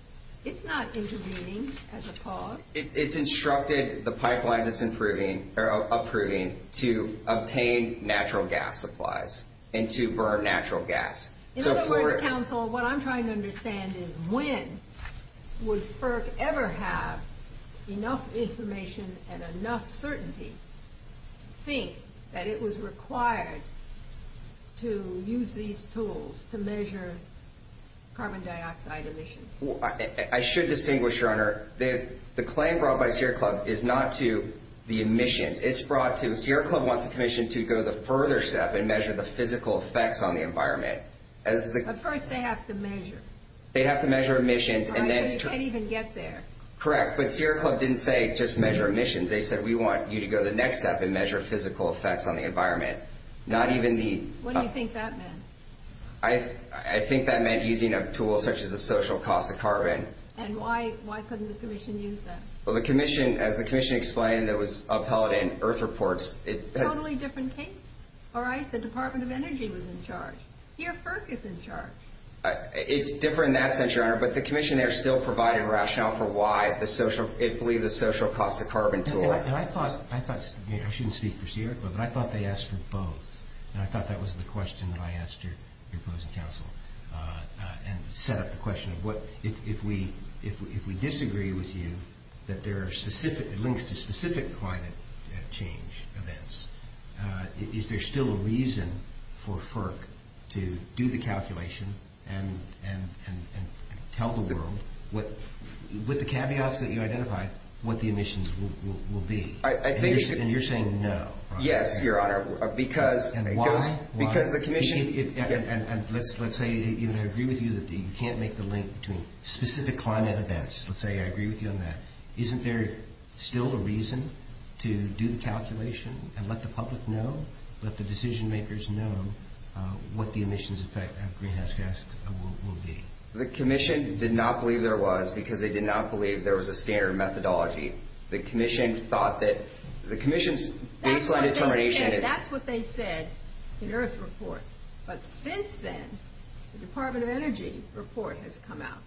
It's not intervening as a cause. It's instructed the pipeline that's approving to obtain natural gas supplies and to burn natural gas. In the Federal Council, what I'm trying to understand is when would FERC ever have enough information and enough certainty to think that it was required to use these tools to measure carbon dioxide emissions? I should distinguish, Your Honor, that the claim brought by Sierra Club is not to the emissions. Sierra Club wants the Commission to go the further step and measure the physical effects on the environment. But first they have to measure. They have to measure emissions. They can't even get there. Correct. But Sierra Club didn't say just measure emissions. They said we want you to go the next step and measure physical effects on the environment, not even the- What do you think that meant? I think that meant using a tool such as the social cost of carbon. And why couldn't the Commission use that? Well, the Commission, as the Commission explained, it was upheld in Earth Reports. Totally different case. All right, the Department of Energy was in charge. Here, FERC is in charge. It's different in that sense, Your Honor, but the Commission there still provided a rationale for why the social- it believed the social cost of carbon tool. I thought-I thought-I shouldn't speak for Sierra Club, but I thought they asked for both. And I thought that was the question that I asked your opposing counsel and set up the question of what- if we disagree with you that there are specific-linked to specific climate change events, is there still a reason for FERC to do the calculation and tell the world what-with the caveats that you identified, what the emissions will be? I think- And you're saying no. Yes, Your Honor, because- And why? Because the Commission- And let's say that I agree with you that you can't make the link between specific climate events. Let's say I agree with you on that. Isn't there still a reason to do the calculation and let the public know, let the decision makers know, what the emissions effect of greenhouse gases will be? The Commission did not believe there was because they did not believe there was a standard methodology. The Commission thought that-the Commission's baseline determination- That's what they said in Earth's report. But since then, the Department of Energy's report has come out.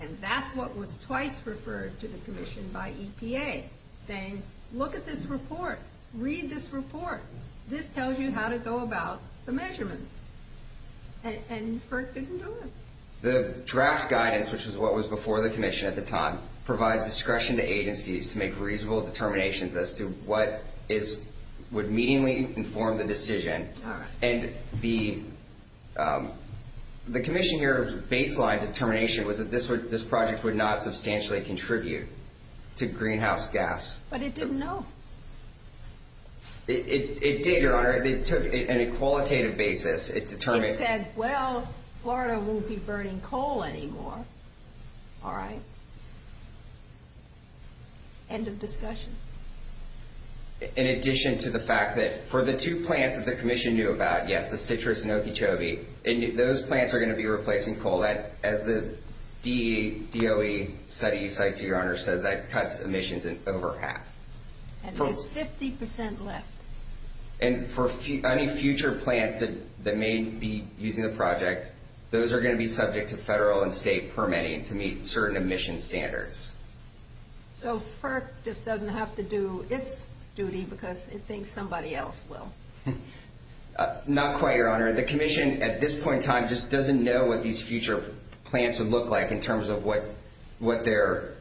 And that's what was twice referred to the Commission by EPA, saying, look at this report. Read this report. This tells you how to go about the measurements. And FERC didn't do it. The draft guidance, which is what was before the Commission at the time, provides discretion to agencies to make reasonable determinations as to what is-would meaningfully inform the decision. And the Commission here's baseline determination was that this project would not substantially contribute to greenhouse gas. But it didn't know. It did, Your Honor. It took an qualitative basis. It determined- It said, well, Florida won't be burning coal anymore. All right. End of discussion. In addition to the fact that for the two plants that the Commission knew about, yes, the Citrus and Okeechobee, those plants are going to be replacing coal. As the DOE study cited, Your Honor, said that cuts emissions in over half. And there's 50% less. And for any future plants that may be using the project, those are going to be subject to federal and state permitting to meet certain emission standards. So FERC just doesn't have to do its duty because it thinks somebody else will. Not quite, Your Honor. The Commission, at this point in time, just doesn't know what these future plants would look like in terms of what their-how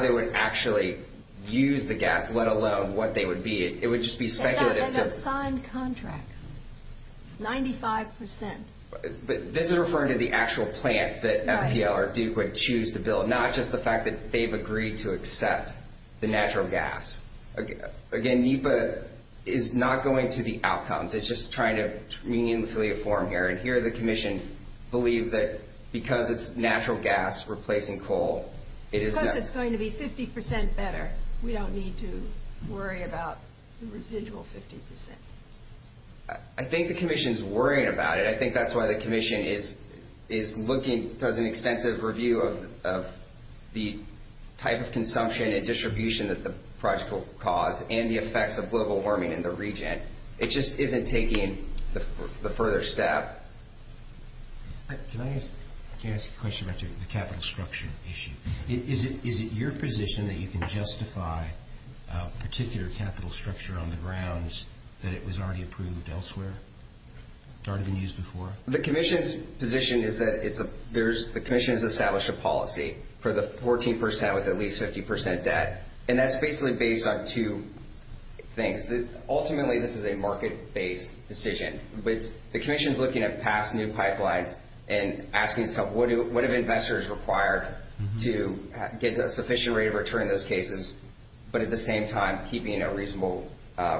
they would actually use the gas, let alone what they would be. It would just be speculative. And that's in a signed contract, 95%. This is referring to the actual plant that FDLRD would choose to build, not just the fact that they've agreed to accept the natural gas. Again, NEPA is not going to the outcomes. It's just trying to meanfully inform here. And here the Commission believes that because it's natural gas replacing coal, it is- Because it's going to be 50% better. We don't need to worry about the residual 50%. I think the Commission is worried about it. I think that's why the Commission is looking for an extensive review of the type of consumption and distribution that the project will cause and the effects of global warming in the region. It just isn't taking the further step. Can I ask a question about the capital structure issue? Is it your position that you can justify a particular capital structure on the grounds that it was already approved elsewhere? It's already been used before? The Commission's position is that it's a-there's-the Commission has established a policy for the 14% with at least 50% debt. And that's basically based on two things. Ultimately, this is a market-based decision. But the Commission is looking at past new pipelines and asking itself what have investors required to get a sufficient rate of return in those cases, but at the same time keeping a reasonable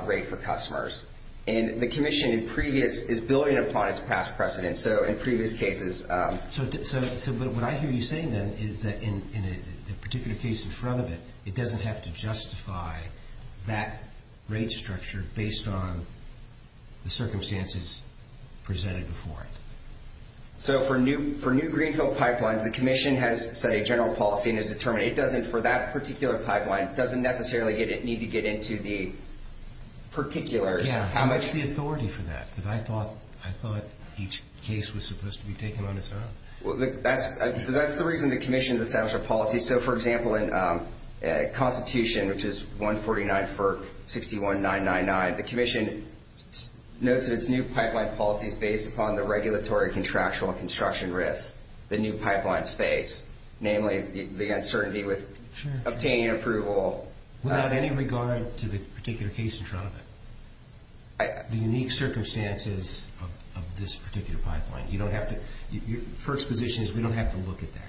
rate for customers. And the Commission in previous-is building upon its past precedents. So in previous cases- So what I hear you saying then is that in a particular case in front of it, it doesn't have to justify that rate structure based on the circumstances presented before it. So for new-for new Greenfield pipelines, the Commission has a general policy and has determined it doesn't-for that particular pipeline, it doesn't necessarily need to get into the particular- Yeah, how much is the authority for that? Because I thought-I thought each case was supposed to be taken on its own. Well, that's-that's the reason the Commission has established a policy. So, for example, in Constitution, which is 149 for 61999, the Commission notes its new pipeline policy is based upon the regulatory contractual construction risk the new pipelines face, namely the uncertainty with obtaining approval. Well, in any regard to the particular case in front of it, the unique circumstances of this particular pipeline, you don't have to-your first position is we don't have to look at that.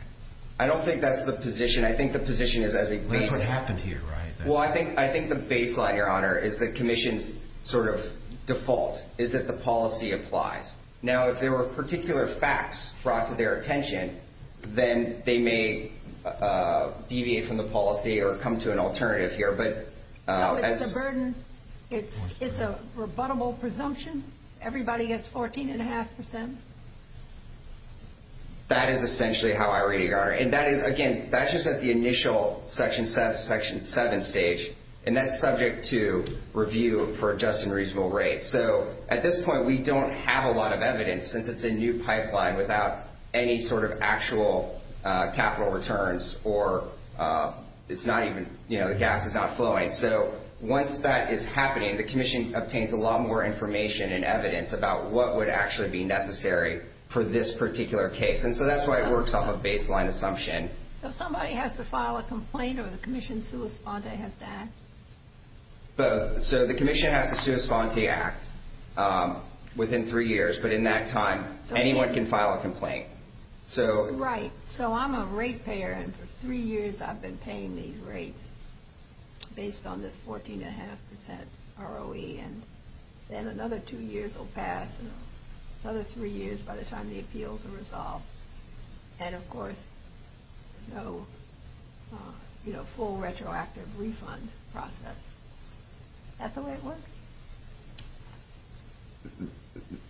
I don't think that's the position. I think the position is as a- That's what happened here, right? Well, I think-I think the baseline, Your Honor, is the Commission's sort of default, is that the policy applies. Now, if there were particular facts brought to their attention, then they may deviate from the policy or come to an alternative here, but- No, it's a burden. It's a rebuttable presumption. Everybody gets 14.5%. That is essentially how I read it, Your Honor. And that is, again, that's just at the initial Section 7 stage, and that's subject to review for adjusting reasonable rates. So at this point, we don't have a lot of evidence, since it's a new pipeline, without any sort of actual capital returns or it's not even-you know, the gas is not flowing. So once that is happening, the Commission obtains a lot more information and evidence about what would actually be necessary for this particular case. Yes, and so that's why it works on a baseline assumption. So somebody has to file a complaint or the Commission has to act? So the Commission has to respond to the act within three years, but in that time, anyone can file a complaint. Right. So I'm a rate payer, and for three years I've been paying these rates based on this 14.5% ROE, and then another two years will pass, another three years by the time the appeals are resolved. And, of course, you know, full retroactive refund process. That's the way it works.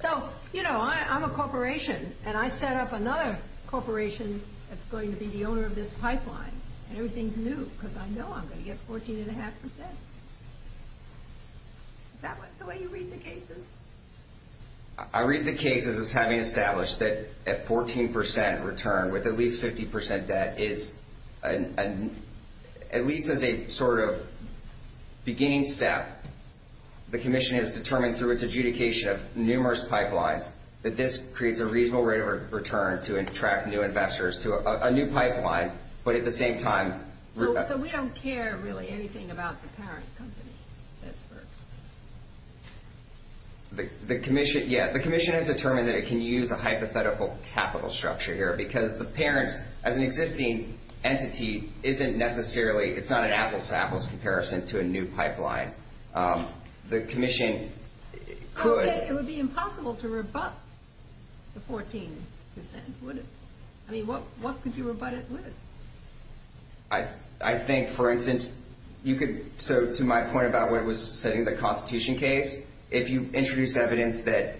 So, you know, I'm a corporation, and I set up another corporation that's going to be the owner of this pipeline. Everything's new because I know I'm going to get 14.5%. Is that the way you read the cases? I read the cases as having established that a 14% return with at least 50% debt is, at least as a sort of beginning step, the Commission has determined through its adjudication of numerous pipelines that this creates a reasonable rate of return to attract new investors to a new pipeline, but at the same time- So we don't care really anything about the parent company? The Commission, yes. The Commission has determined that it can use a hypothetical capital structure here because the parent of an existing entity isn't necessarily, it's not an apples-to-apples comparison to a new pipeline. The Commission could- Okay, it would be impossible to rebut the 14%, would it? I mean, what could you rebut it with? I think, for instance, you could- So to my point about what was said in the Constitution case, if you introduce evidence that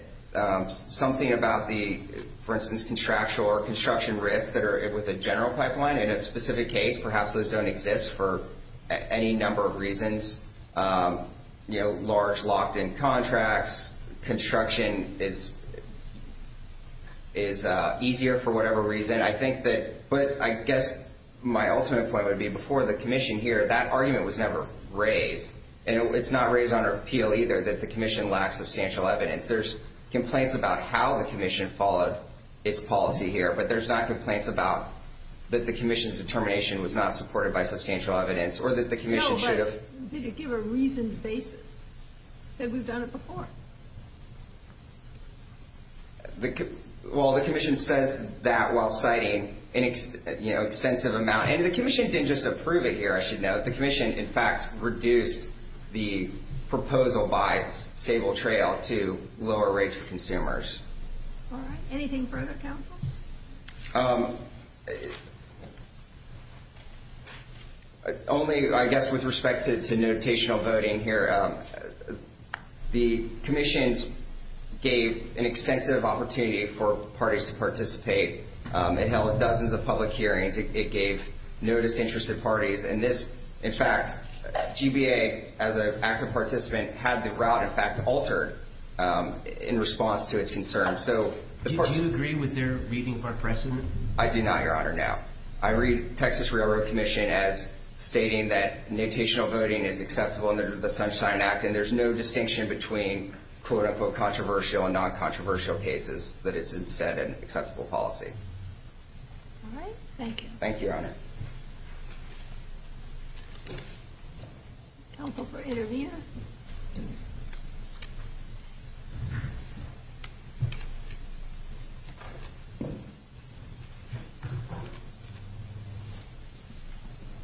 something about the, for instance, contractual or construction risks that are with a general pipeline in a specific case, perhaps those don't exist for any number of reasons, large locked-in contracts, construction is easier for whatever reason. I think that- But I guess my ultimate point would be before the Commission here, that argument was never raised, and it's not raised under appeal either that the Commission lacks substantial evidence. There's complaints about how the Commission followed its policy here, but there's not complaints about that the Commission's determination was not supported by substantial evidence or that the Commission should have- No, but it didn't give a reasoned basis. It said we've done it before. Well, the Commission said that while citing an extensive amount, and the Commission didn't just approve it here, I should note. The Commission, in fact, reduced the proposal by Stable Trail to lower rates for consumers. Anything further, counsel? Only, I guess, with respect to notational voting here, the Commission gave an extensive opportunity for parties to participate. It held dozens of public hearings. It gave notice to interested parties, and this, in fact, GBA, as an active participant, had the route, in fact, altered in response to a concern. Do you agree with their reading of our precedent? I do not, Your Honor, no. I read Texas Railroad Commission as stating that notational voting is accessible under the Sunshine Act, and there's no distinction between, quote-unquote, controversial and non-controversial cases, but it's instead an accessible policy. All right, thank you. Thank you, Your Honor. Counsel for interveners?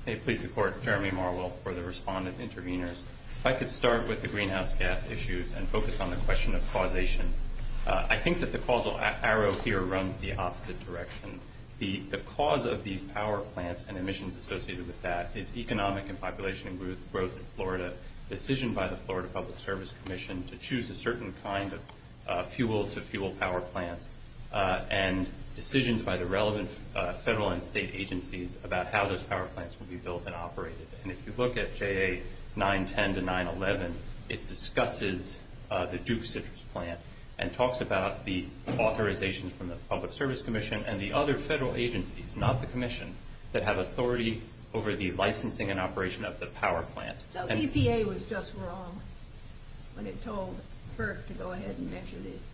May it please the Court, Jeremy Marwell for the respondent interveners. I could start with the greenhouse gas issues and focus on the question of causation. I think that the causal arrow here runs the opposite direction. The cause of these power plants and emissions associated with that is economic and population growth in Florida, decision by the Florida Public Service Commission to choose a certain kind of fuel-to-fuel power plant, and decisions by the relevant federal and state agencies about how those power plants will be built and operated. And if you look at JA 910 to 911, it discusses the Duke Citrus plant and talks about the authorization from the Public Service Commission and the other federal agencies, not the Commission, that have authority over the licensing and operation of the power plant. So EPA was just wrong when it told FERC to go ahead and measure this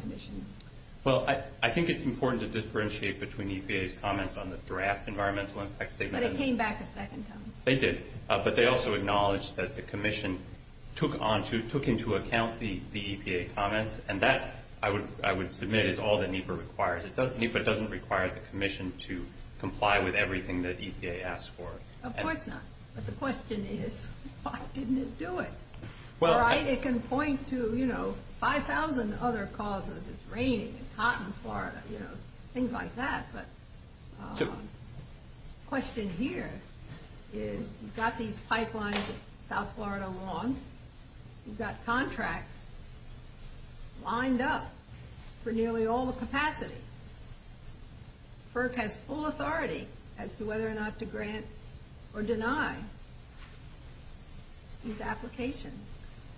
commission. Well, I think it's important to differentiate between EPA's comments on the draft environmental impact statement. But it came back a second time. They did, but they also acknowledged that the Commission took into account the EPA comments, and that, I would submit, is all that NEPA requires. NEPA doesn't require the Commission to comply with everything that EPA asks for. Of course not. But the question is, why didn't it do it? It can point to 5,000 other causes. It's raining, it's hot in Florida, things like that. But the question here is, you've got these pipelines that South Florida wants. You've got contracts lined up for nearly all the capacities. FERC has full authority as to whether or not to grant or deny these applications.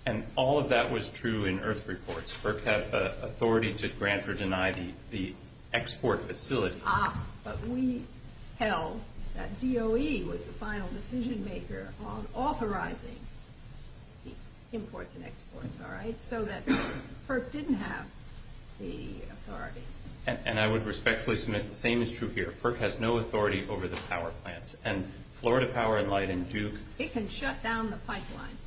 And all of that was true in IRF reports. FERC has authority to grant or deny the export facility. But we held that DOE was the final decision maker on authorizing imports and exports. So that FERC didn't have the authority. And I would respectfully submit the same is true here. FERC has no authority over the power plants. And Florida Power and Light and Duke. It can shut down the pipeline.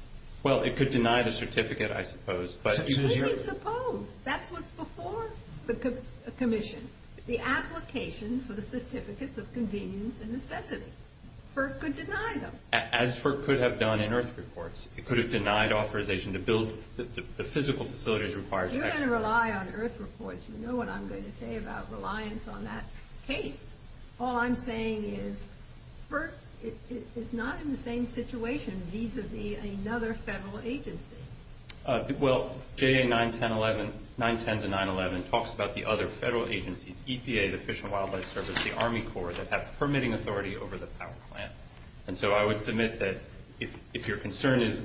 Well, it could deny the certificate, I suppose. Suppose. That's what's before the commission. The application for the certificates of convenience and necessity. FERC could deny them. As FERC could have done in IRF reports. It could have denied authorization to build the physical facilities required. You're going to rely on IRF reports. You know what I'm going to say about reliance on that case. All I'm saying is, FERC is not in the same situation. It needs to be another federal agency. Well, J.A. 910-911 talks about the other federal agencies. EPA, the Fish and Wildlife Service, the Army Corps, that have permitting authority over the power plant. And so I would submit that if your concern is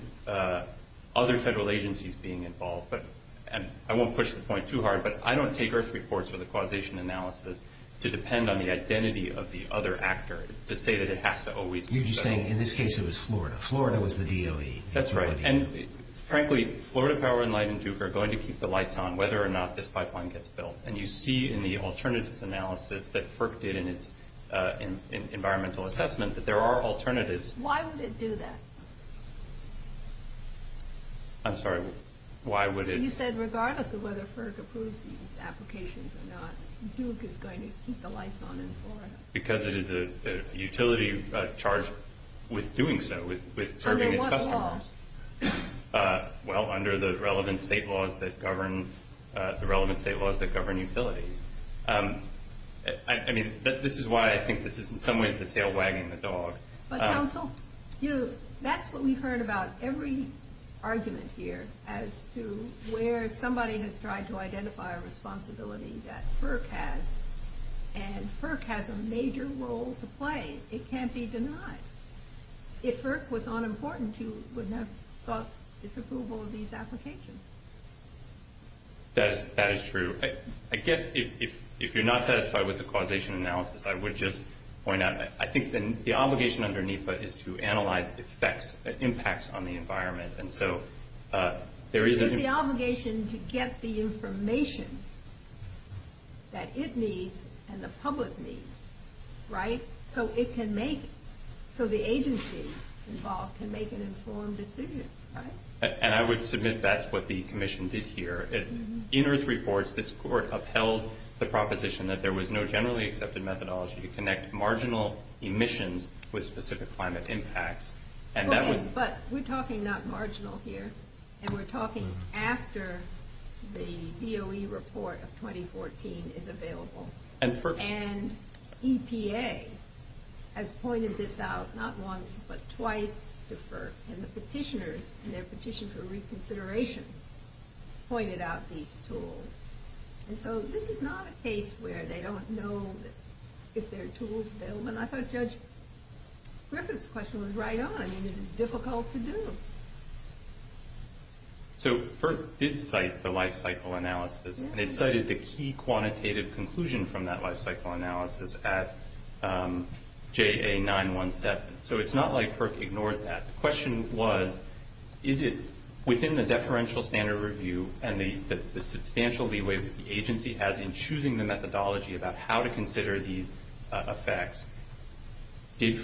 other federal agencies being involved, and I won't push the point too hard, but I don't take IRF reports with a causation analysis to depend on the identity of the other actor to say that it has to always be. You'd be saying, in this case, it was Florida. Florida was the DOE. That's right. And frankly, Florida Power and Light and Duke are going to keep the lights on whether or not this pipeline gets built. And you see in the alternatives analysis that FERC did in environmental assessment that there are alternatives. Why would it do that? I'm sorry. Why would it? You said regardless of whether FERC approves these applications or not, Duke is going to keep the lights on in Florida. Because it is a utility charged with doing so, with serving its customers. Well, under the relevant state laws that govern utilities. I mean, this is why I think this is in some ways the tail wagging the dog. But counsel, that's what we've heard about every argument here, as to where somebody has tried to identify a responsibility that FERC has, and FERC has a major role to play. It can't be denied. If FERC was unimportant, you wouldn't have thought it's approvable in these applications. That is true. I guess if you're not satisfied with the causation analysis, I would just point out, I think the obligation under NEPA is to analyze the effects, the impacts on the environment. And so there is an obligation to get the information that it needs and the public needs, right? So it can make, so the agency involved can make an informed decision, right? And I would submit that's what the commission did here. In its reports, this court upheld the proposition that there was no generally accepted methodology to connect marginal emissions with specific climate impacts. But we're talking not marginal here. And we're talking after the DOE report of 2014 is available. And EPA has pointed this out not once but twice to FERC. And the petitioners and their petition for reconsideration pointed out these tools. And so this is not a case where they don't know if there are tools available. And I thought Judge Griffith's question was right on. I mean, it's difficult to do. So FERC did cite the life cycle analysis. And it cited the key quantitative conclusion from that life cycle analysis as JA917. So it's not like FERC ignored that. The question was, is it within the deferential standard review and the substantial leeway the agency has in choosing the methodology about how to consider these effects, was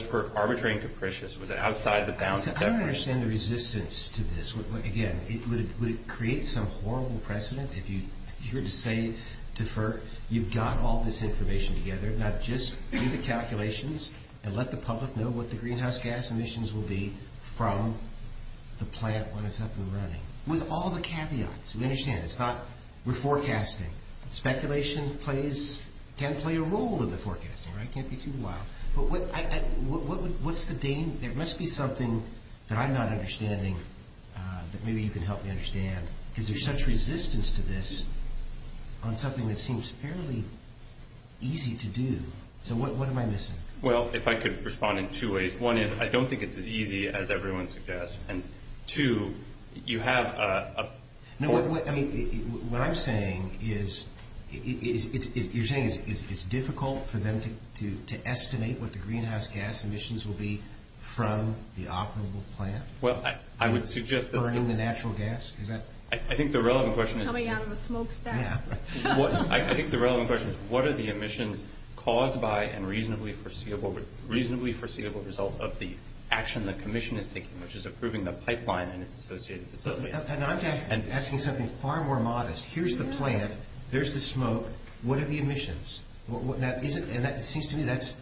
FERC arbitrary and capricious? I don't understand the resistance to this. Again, would it create some horrible precedent if you were to say to FERC, you've got all this information together, now just do the calculations and let the public know what the greenhouse gas emissions will be from the plant when it's up and running. With all the caveats. We understand. We're forecasting. Speculation can play a role in the forecasting. It can't be too wild. But what's the game? There must be something that I'm not understanding that maybe you can help me understand. Because there's such resistance to this on something that seems fairly easy to do. So what am I missing? Well, if I could respond in two ways. One is I don't think it's as easy as everyone suggests. And two, you have a point. What I'm saying is you're saying it's difficult for them to estimate what the greenhouse gas emissions will be from the operable plant? Well, I would suggest that… Burning the natural gas? I think the relevant question is… Coming out of a smokestack. I think the relevant question is what are the emissions caused by and reasonably foreseeable result of the action the commission is taking, which is approving the pipeline and its associated facilities. I'm asking something far more modest. Here's the plant. There's the smoke. What are the emissions? And it seems to me that's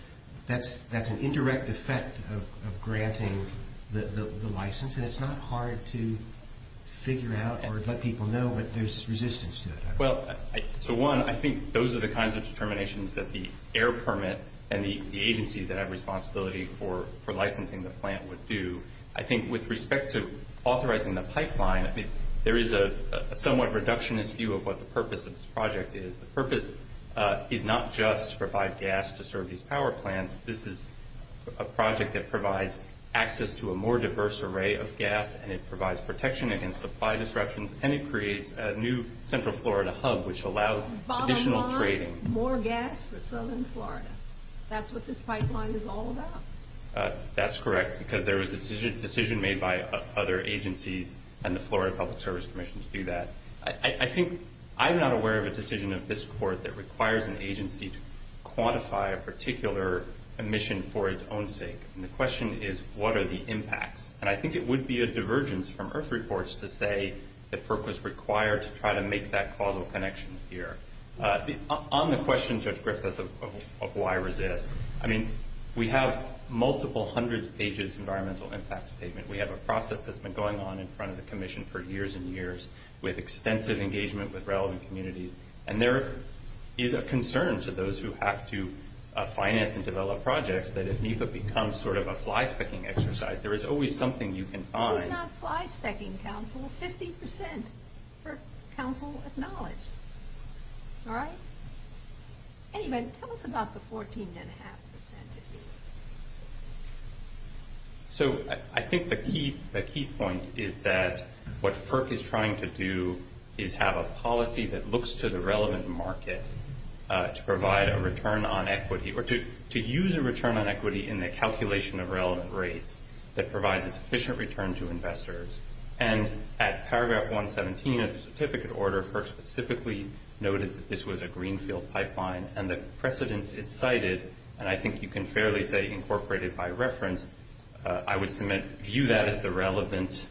an indirect effect of granting the license. And it's not hard to figure out or let people know that there's resistance to it. Well, so one, I think those are the kinds of determinations that the air permit and the agencies that have responsibility for licensing the plant would do. I think with respect to authorizing the pipeline, there is a somewhat reductionist view of what the purpose of this project is. The purpose is not just to provide gas to serve these power plants. This is a project that provides access to a more diverse array of gas, and it provides protection against supply disruptions, and it creates a new central Florida hub, which allows additional trade. Bottom line, more gas for southern Florida. That's what this pipeline is all about. That's correct, because there is a decision made by other agencies, and the Florida Public Service Commissions do that. I think I'm not aware of a decision of this court that requires an agency to quantify a particular emission for its own sake. And the question is, what are the impacts? And I think it would be a divergence from IRF reports to say that FERC was required to try to make that causal connection here. On the question, Jeff Griffiths, of why resist, I mean, we have multiple hundred pages environmental impact statement. We have a process that's been going on in front of the commission for years and years with extensive engagement with relevant communities, and there is a concern to those who have to finance and develop projects that if NEPA becomes sort of a fly-specking exercise, there is always something you can find. It's not fly-specking, counsel. Fifty percent for counsel with knowledge. All right? Anyway, tell us about the 14.5 percent. So I think the key point is that what FERC is trying to do is have a policy that looks to the relevant market to provide a return on equity or to use a return on equity in the calculation of relevant rate that provides a sufficient return to investors. And at paragraph 117 of the certificate order, FERC specifically noted that this was a greenfield pipeline and the precedence it cited, and I think you can fairly say incorporated by reference, I would view that as the relevant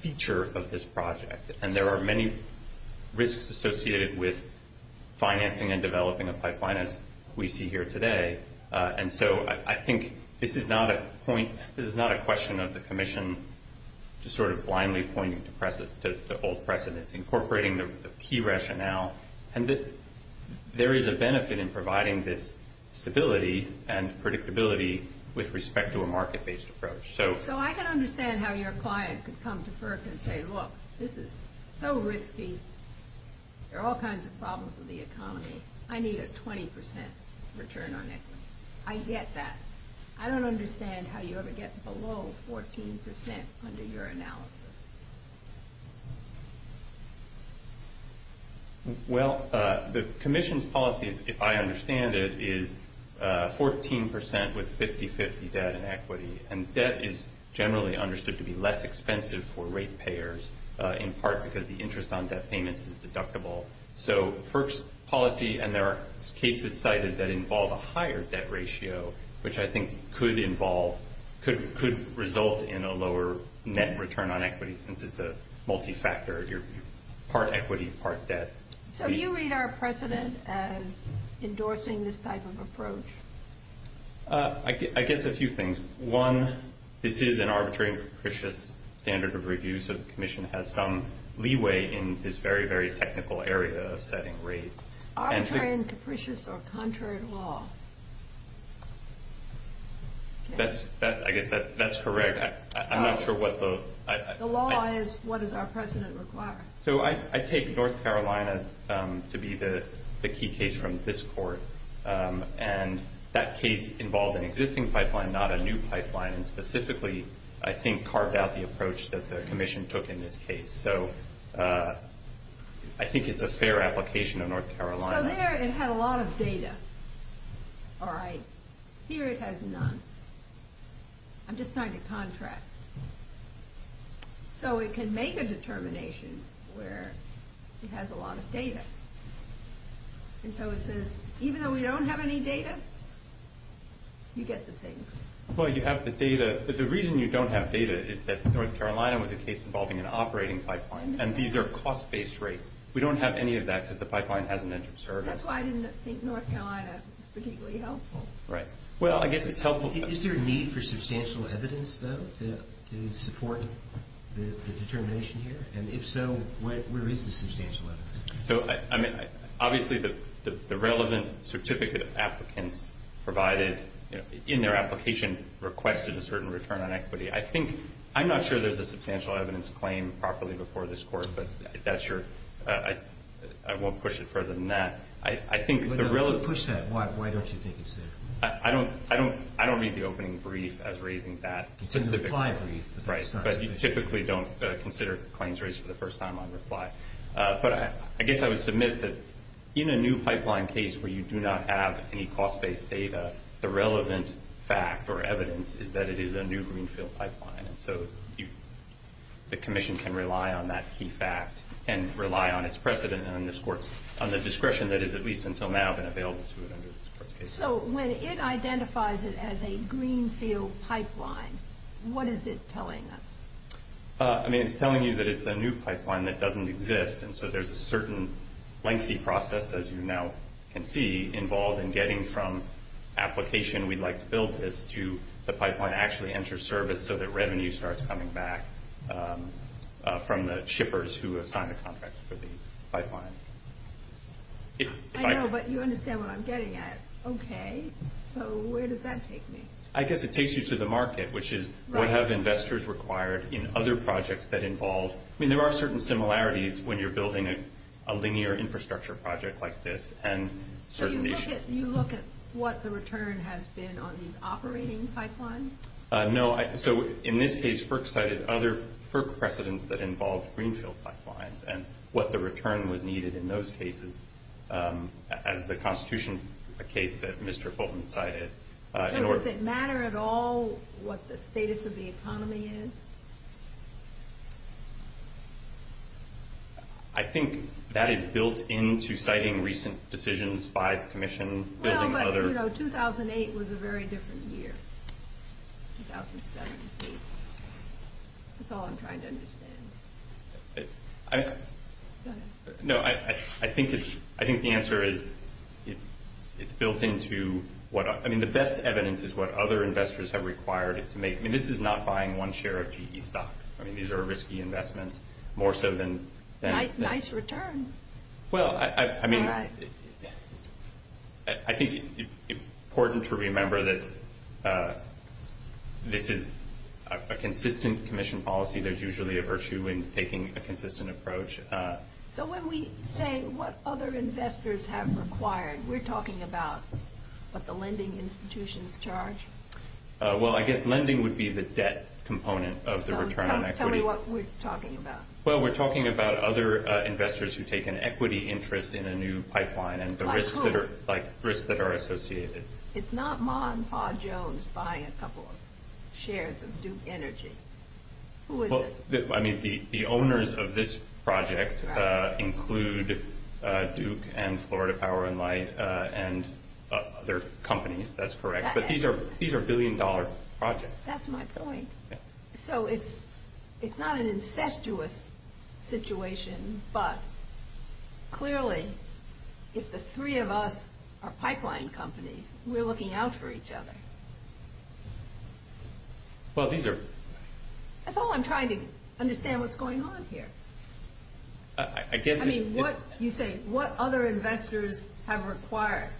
feature of this project. And there are many risks associated with financing and developing a pipeline as we see here today. And so I think this is not a question of the commission sort of blindly pointing to the old precedence, incorporating the key rationale. And there is a benefit in providing this stability and predictability with respect to a market-based approach. So I can understand how your client could come to FERC and say, look, this is so risky. There are all kinds of problems with the economy. I need a 20 percent return on equity. I get that. I don't understand how you ever get below 14 percent under your analysis. Well, the commission's policy, if I understand it, is 14 percent with 50-50 debt and equity. And debt is generally understood to be less expensive for rate payers, in part because the interest on debt payments is deductible. So FERC's policy, and there are cases cited that involve a higher debt ratio, which I think could result in a lower net return on equity since it's a multi-factor. You're part equity, part debt. So do you read our precedent as endorsing this type of approach? I guess a few things. One, this is an arbitrary and capricious standard of review, so the commission has some leeway in this very, very technical area of setting rates. Arbitrary and capricious or contrary to law? I guess that's correct. I'm not sure what both. The law is what does our precedent require. So I take North Carolina to be the key case from this court, and that case involved an existing pipeline, not a new pipeline, and specifically I think carved out the approach that the commission took in this case. So I think it's a fair application of North Carolina. So there it had a lot of data. All right. Here it has none. I'm just trying to contrast. So it can make a determination where it has a lot of data. And so it says, even though we don't have any data, you get the thing. Well, you have the data. But the reason you don't have data is that North Carolina was a case involving an operating pipeline, and these are cost-based rates. We don't have any of that because the pipeline has an entrance service. That's why I didn't think North Carolina is particularly helpful. Right. Well, I guess it's helpful. Is there a need for substantial evidence, though, to support the determination here? And if so, where is the substantial evidence? So, I mean, obviously the relevant certificate applicants provided in their application requested a certain return on equity. I think – I'm not sure there's a substantial evidence claim properly before this court, but that's your – I won't push it further than that. I think the real – Well, then push that. Why don't you think you should? I don't read the opening brief as raising that specifically. In the client brief. Right. Because you typically don't consider claims raised for the first time on this slide. But I guess I would submit that in a new pipeline case where you do not have any cost-based data, the relevant fact or evidence is that it is a new greenfield pipeline. And so the commission can rely on that key fact and rely on its precedent in this court on the discretion that is, at least until now, been available to it under this court's case. So when it identifies it as a greenfield pipeline, what is it telling us? I mean, it's telling you that it's a new pipeline that doesn't exist. And so there's a certain lengthy process, as you now can see, involved in getting from application, we'd like to build this, to the pipeline actually enters service so that revenue starts coming back from the shippers who assign the contracts for the pipeline. I know, but you understand what I'm getting at. Okay. So where does that take me? I guess it takes you to the market, which is what have investors required in other projects that involve. I mean, there are certain similarities when you're building a linear infrastructure project like this. So you look at what the return has been on these operating pipelines? No. So in this case, FERC cited other FERC precedents that involved greenfield pipelines and what the return was needed in those cases. The Constitution is a case that Mr. Fulton cited. Does it matter at all what the status of the economy is? I think that is built into citing recent decisions by commissions. 2008 was a very different year. That's all I'm trying to understand. No, I think the answer is it's built into what – I mean, the best evidence is what other investors have required. I mean, this is not buying one share of G.E. stock. I mean, these are risky investments, more so than – Nice return. Well, I mean, I think it's important to remember that this is a consistent commission policy. There's usually a virtue in taking a consistent approach. So when we say what other investors have required, we're talking about what the lending institutions charge? Well, I guess lending would be the debt component of the return on equity. Tell me what we're talking about. Well, we're talking about other investors who take an equity interest in a new pipeline. Like who? Like risks that are associated. It's not Ma and Pa Jones buying a couple of shares of Duke Energy. Who is it? I mean, the owners of this project include Duke and Florida Power & Light and other companies. That's correct. But these are billion-dollar projects. That's my point. So it's not an incestuous situation, but clearly if the three of us are pipeline companies, we're looking out for each other. Well, these are – That's all I'm trying to understand what's going on here. I mean, you say what other investors have required. Correct.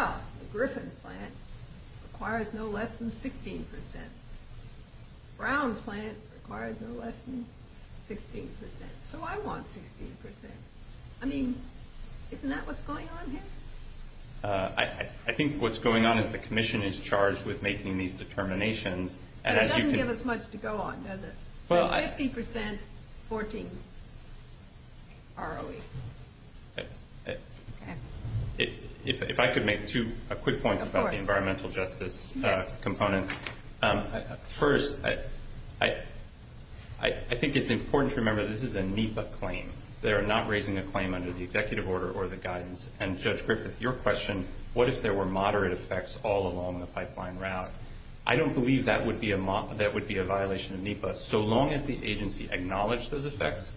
Well, the Griffin plant requires no less than 16 percent. Brown's plant requires no less than 16 percent. So I want 16 percent. I mean, isn't that what's going on here? I think what's going on is the commission is charged with making these determinations. That doesn't give us much to go on, does it? Well, I – Fifty percent, 14. Barley. If I could make two quick points about the environmental justice component. First, I think it's important to remember this is a NEPA claim. They are not raising a claim under the executive order or the guidance. And Judge Griffith, your question, what if there were moderate effects all along the pipeline route? I don't believe that would be a violation of NEPA. So long as the agency acknowledged those effects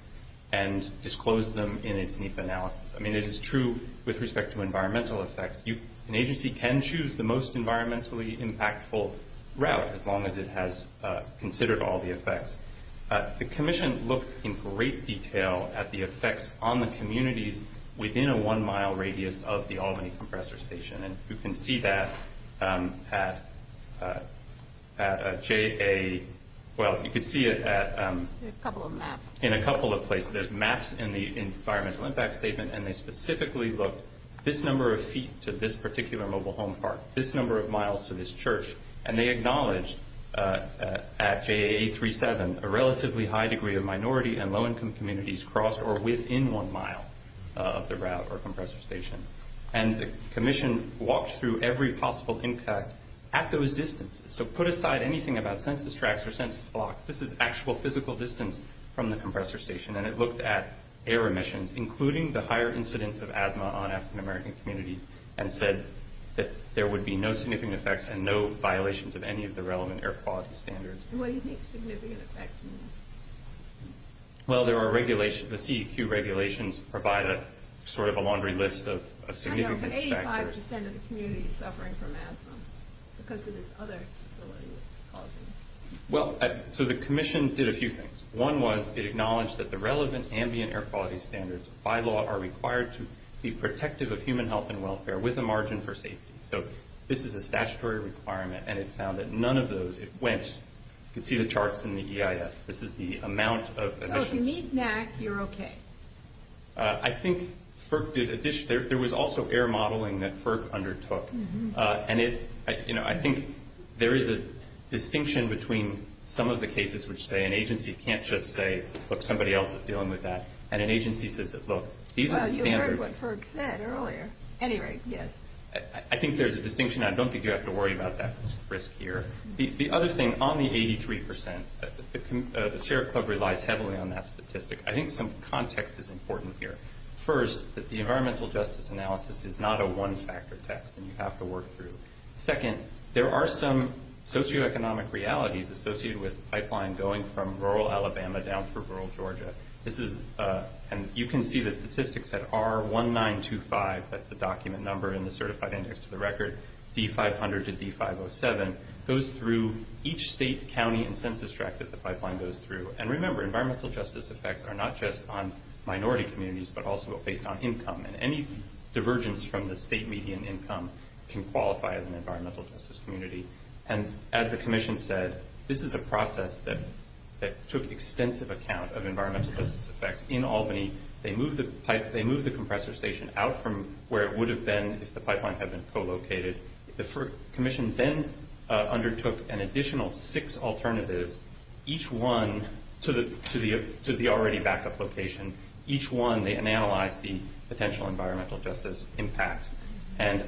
and disclosed them in its NEPA analysis. I mean, it is true with respect to environmental effects. An agency can choose the most environmentally impactful route as long as it has considered all the effects. The commission looked in great detail at the effects on the communities within a one-mile radius of the Albany Compressor Station. And you can see that at a JA – well, you can see it at – There's a couple of maps. In a couple of places. There's maps in the environmental impact statement. And they specifically look this number of feet to this particular mobile home park, this number of miles to this church. And they acknowledge at JA 837 a relatively high degree of minority and low-income communities cross or within one mile of the route or compressor station. And the commission walked through every possible impact at those distances. So put aside anything about census tracts or census blocks. This is actual physical distance from the compressor station. And it looked at air emissions, including the higher incidence of asthma on African American communities, and said that there would be no significant effects and no violations of any of the relevant air quality standards. What do you mean significant effects? Well, there are regulations. The CEQ regulations provide a sort of a laundry list of significant factors. About 85% of the community is suffering from asthma because of these other illegal causes. Well, so the commission did a few things. One was it acknowledged that the relevant ambient air quality standards, by law, are required to be protective of human health and welfare with a margin for safety. So this is a statutory requirement. And it found that none of those, it went to see the charts from the EIS. This is the amount of- So if you need that, you're okay. I think there was also air modeling that FERC undertook. And I think there is a distinction between some of the cases which say an agency can't just say, but somebody else is dealing with that. And an agency says, look, these are standards- Well, you heard what FERC said earlier. At any rate, yes. I think there's a distinction. I don't think you have to worry about that risk here. The other thing, on the 83%, the Sheriff Club relies heavily on that statistic. I think some context is important here. First, the environmental justice analysis is not a one-factor test, and you have to work through it. Second, there are some socioeconomic realities associated with the pipeline going from rural Alabama down to rural Georgia. And you can see the statistics at R1925, that's the document number in the certified index of the record, D500 to D507, goes through each state, county, and census tract that the pipeline goes through. And remember, environmental justice effects are not just on minority communities, but also based on income. And any divergence from the state median income can qualify as an environmental justice community. And as the commission said, this is a process that took extensive account of environmental justice effects in Albany. They moved the compressor station out from where it would have been if the pipeline had been co-located. The commission then undertook an additional six alternatives, each one to the already backup location. Each one, they analyzed the potential environmental justice impact. And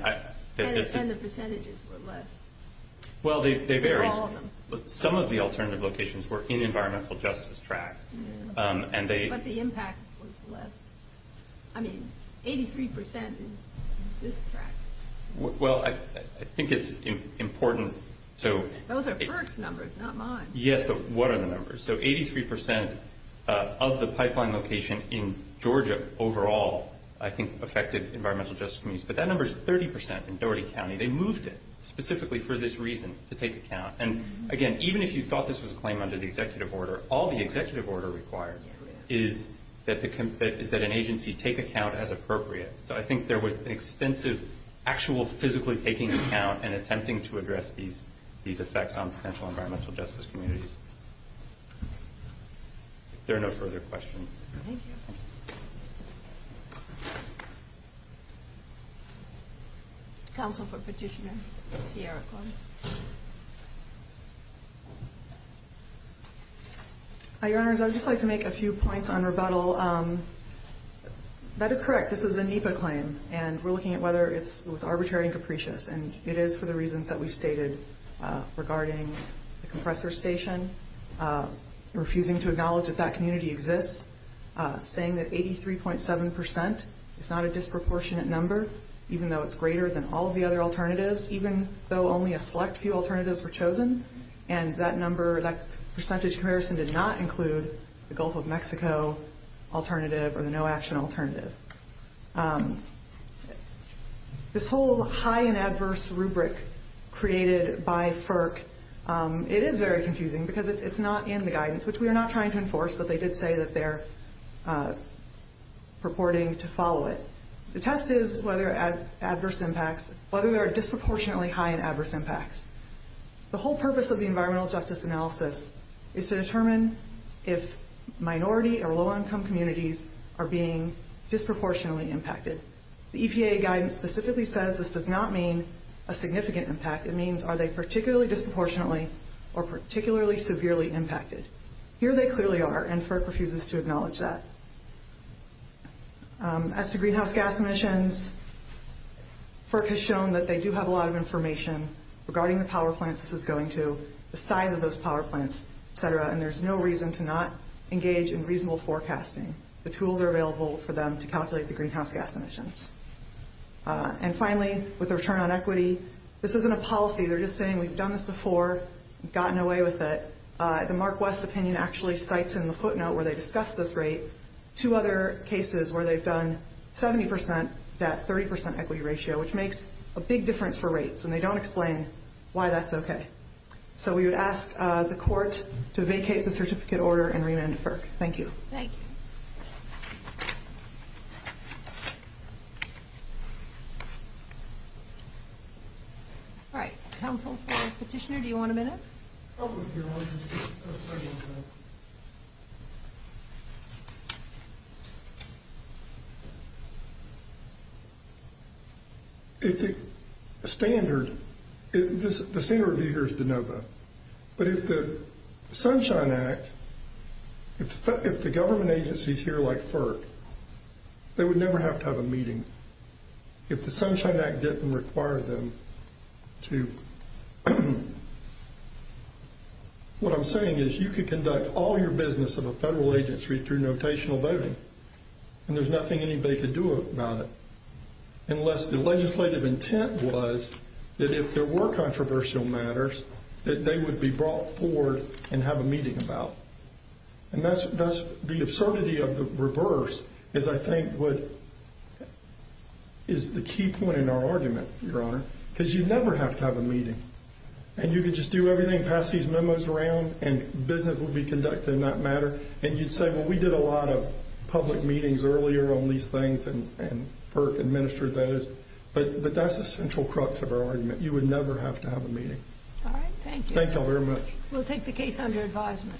the percentages were less. Well, they vary. Some of the alternative locations were in the environmental justice tract. But the impact was less. I mean, 83% in this tract. Well, I think it's important. Those are FERC's numbers, not mine. Yes, but what are the numbers? So 83% of the pipeline location in Georgia overall, I think, affected environmental justice communities. But that number is 30% in Doherty County. They moved it specifically for this reason, to take account. And, again, even if you thought this was a claim under the executive order, all the executive order requires is that an agency take account as appropriate. So I think there was an extensive, actual physically taking account and attempting to address these effects on potential environmental justice communities. If there are no further questions. Thank you. Counsel for Petitioner, Sierra Cohn. Your Honors, I would just like to make a few points on rebuttal. Well, that is correct. This is a NEPA claim. And we're looking at whether it was arbitrary and capricious. And it is for the reasons that we've stated regarding the compressor station, refusing to acknowledge that that community exists, saying that 83.7% is not a disproportionate number, even though it's greater than all of the other alternatives, even though only a select few alternatives were chosen. And that number, that percentage comparison did not include the Gulf of Mexico alternative or the no action alternative. This whole high and adverse rubric created by FERC, it is very confusing because it's not in the guidance, which we are not trying to enforce, but they did say that they're purporting to follow it. The test is whether adverse impacts, whether there are disproportionately high and adverse impacts. The whole purpose of the environmental justice analysis is to determine if minority or low income communities are being disproportionately impacted. The EPA guidance specifically says this does not mean a significant impact. It means are they particularly disproportionately or particularly severely impacted. Here they clearly are and FERC refuses to acknowledge that. As to greenhouse gas emissions, FERC has shown that they do have a lot of information regarding the power plants this is going to, the size of those power plants, et cetera, and there's no reason to not engage in reasonable forecasting. The tools are available for them to calculate the greenhouse gas emissions. And finally, with the return on equity, this isn't a policy. They're just saying we've done this before, gotten away with it. The Mark West opinion actually cites in the footnote where they discussed this rate two other cases where they've done 70% debt, 30% equity ratio, which makes a big difference for rates, and they don't explain why that's okay. So we would ask the court to vacate the certificate order and rename it FERC. Thank you. Thank you. All right. Counsel? Petitioner, do you want a minute? I'll review it. If the standard, the standard here is to know that. But if the Sunshine Act, if the government agencies here like FERC, they would never have to have a meeting. If the Sunshine Act didn't require them to, what I'm saying is you could conduct all your business in a federal agency through notational voting, and there's nothing anybody could do about it, unless the legislative intent was that if there were controversial matters, that they would be brought forward and have a meeting about. And that's the absurdity of the reverse is I think what is the key point in our argument, Your Honor, because you'd never have to have a meeting. And you could just do everything past these memos around, and business would be conducted in that matter. And you'd say, well, we did a lot of public meetings earlier on these things, and FERC administered those. But that's the central crux of our argument. You would never have to have a meeting. All right. Thank you. Thank you all very much. We'll take the case under advisement.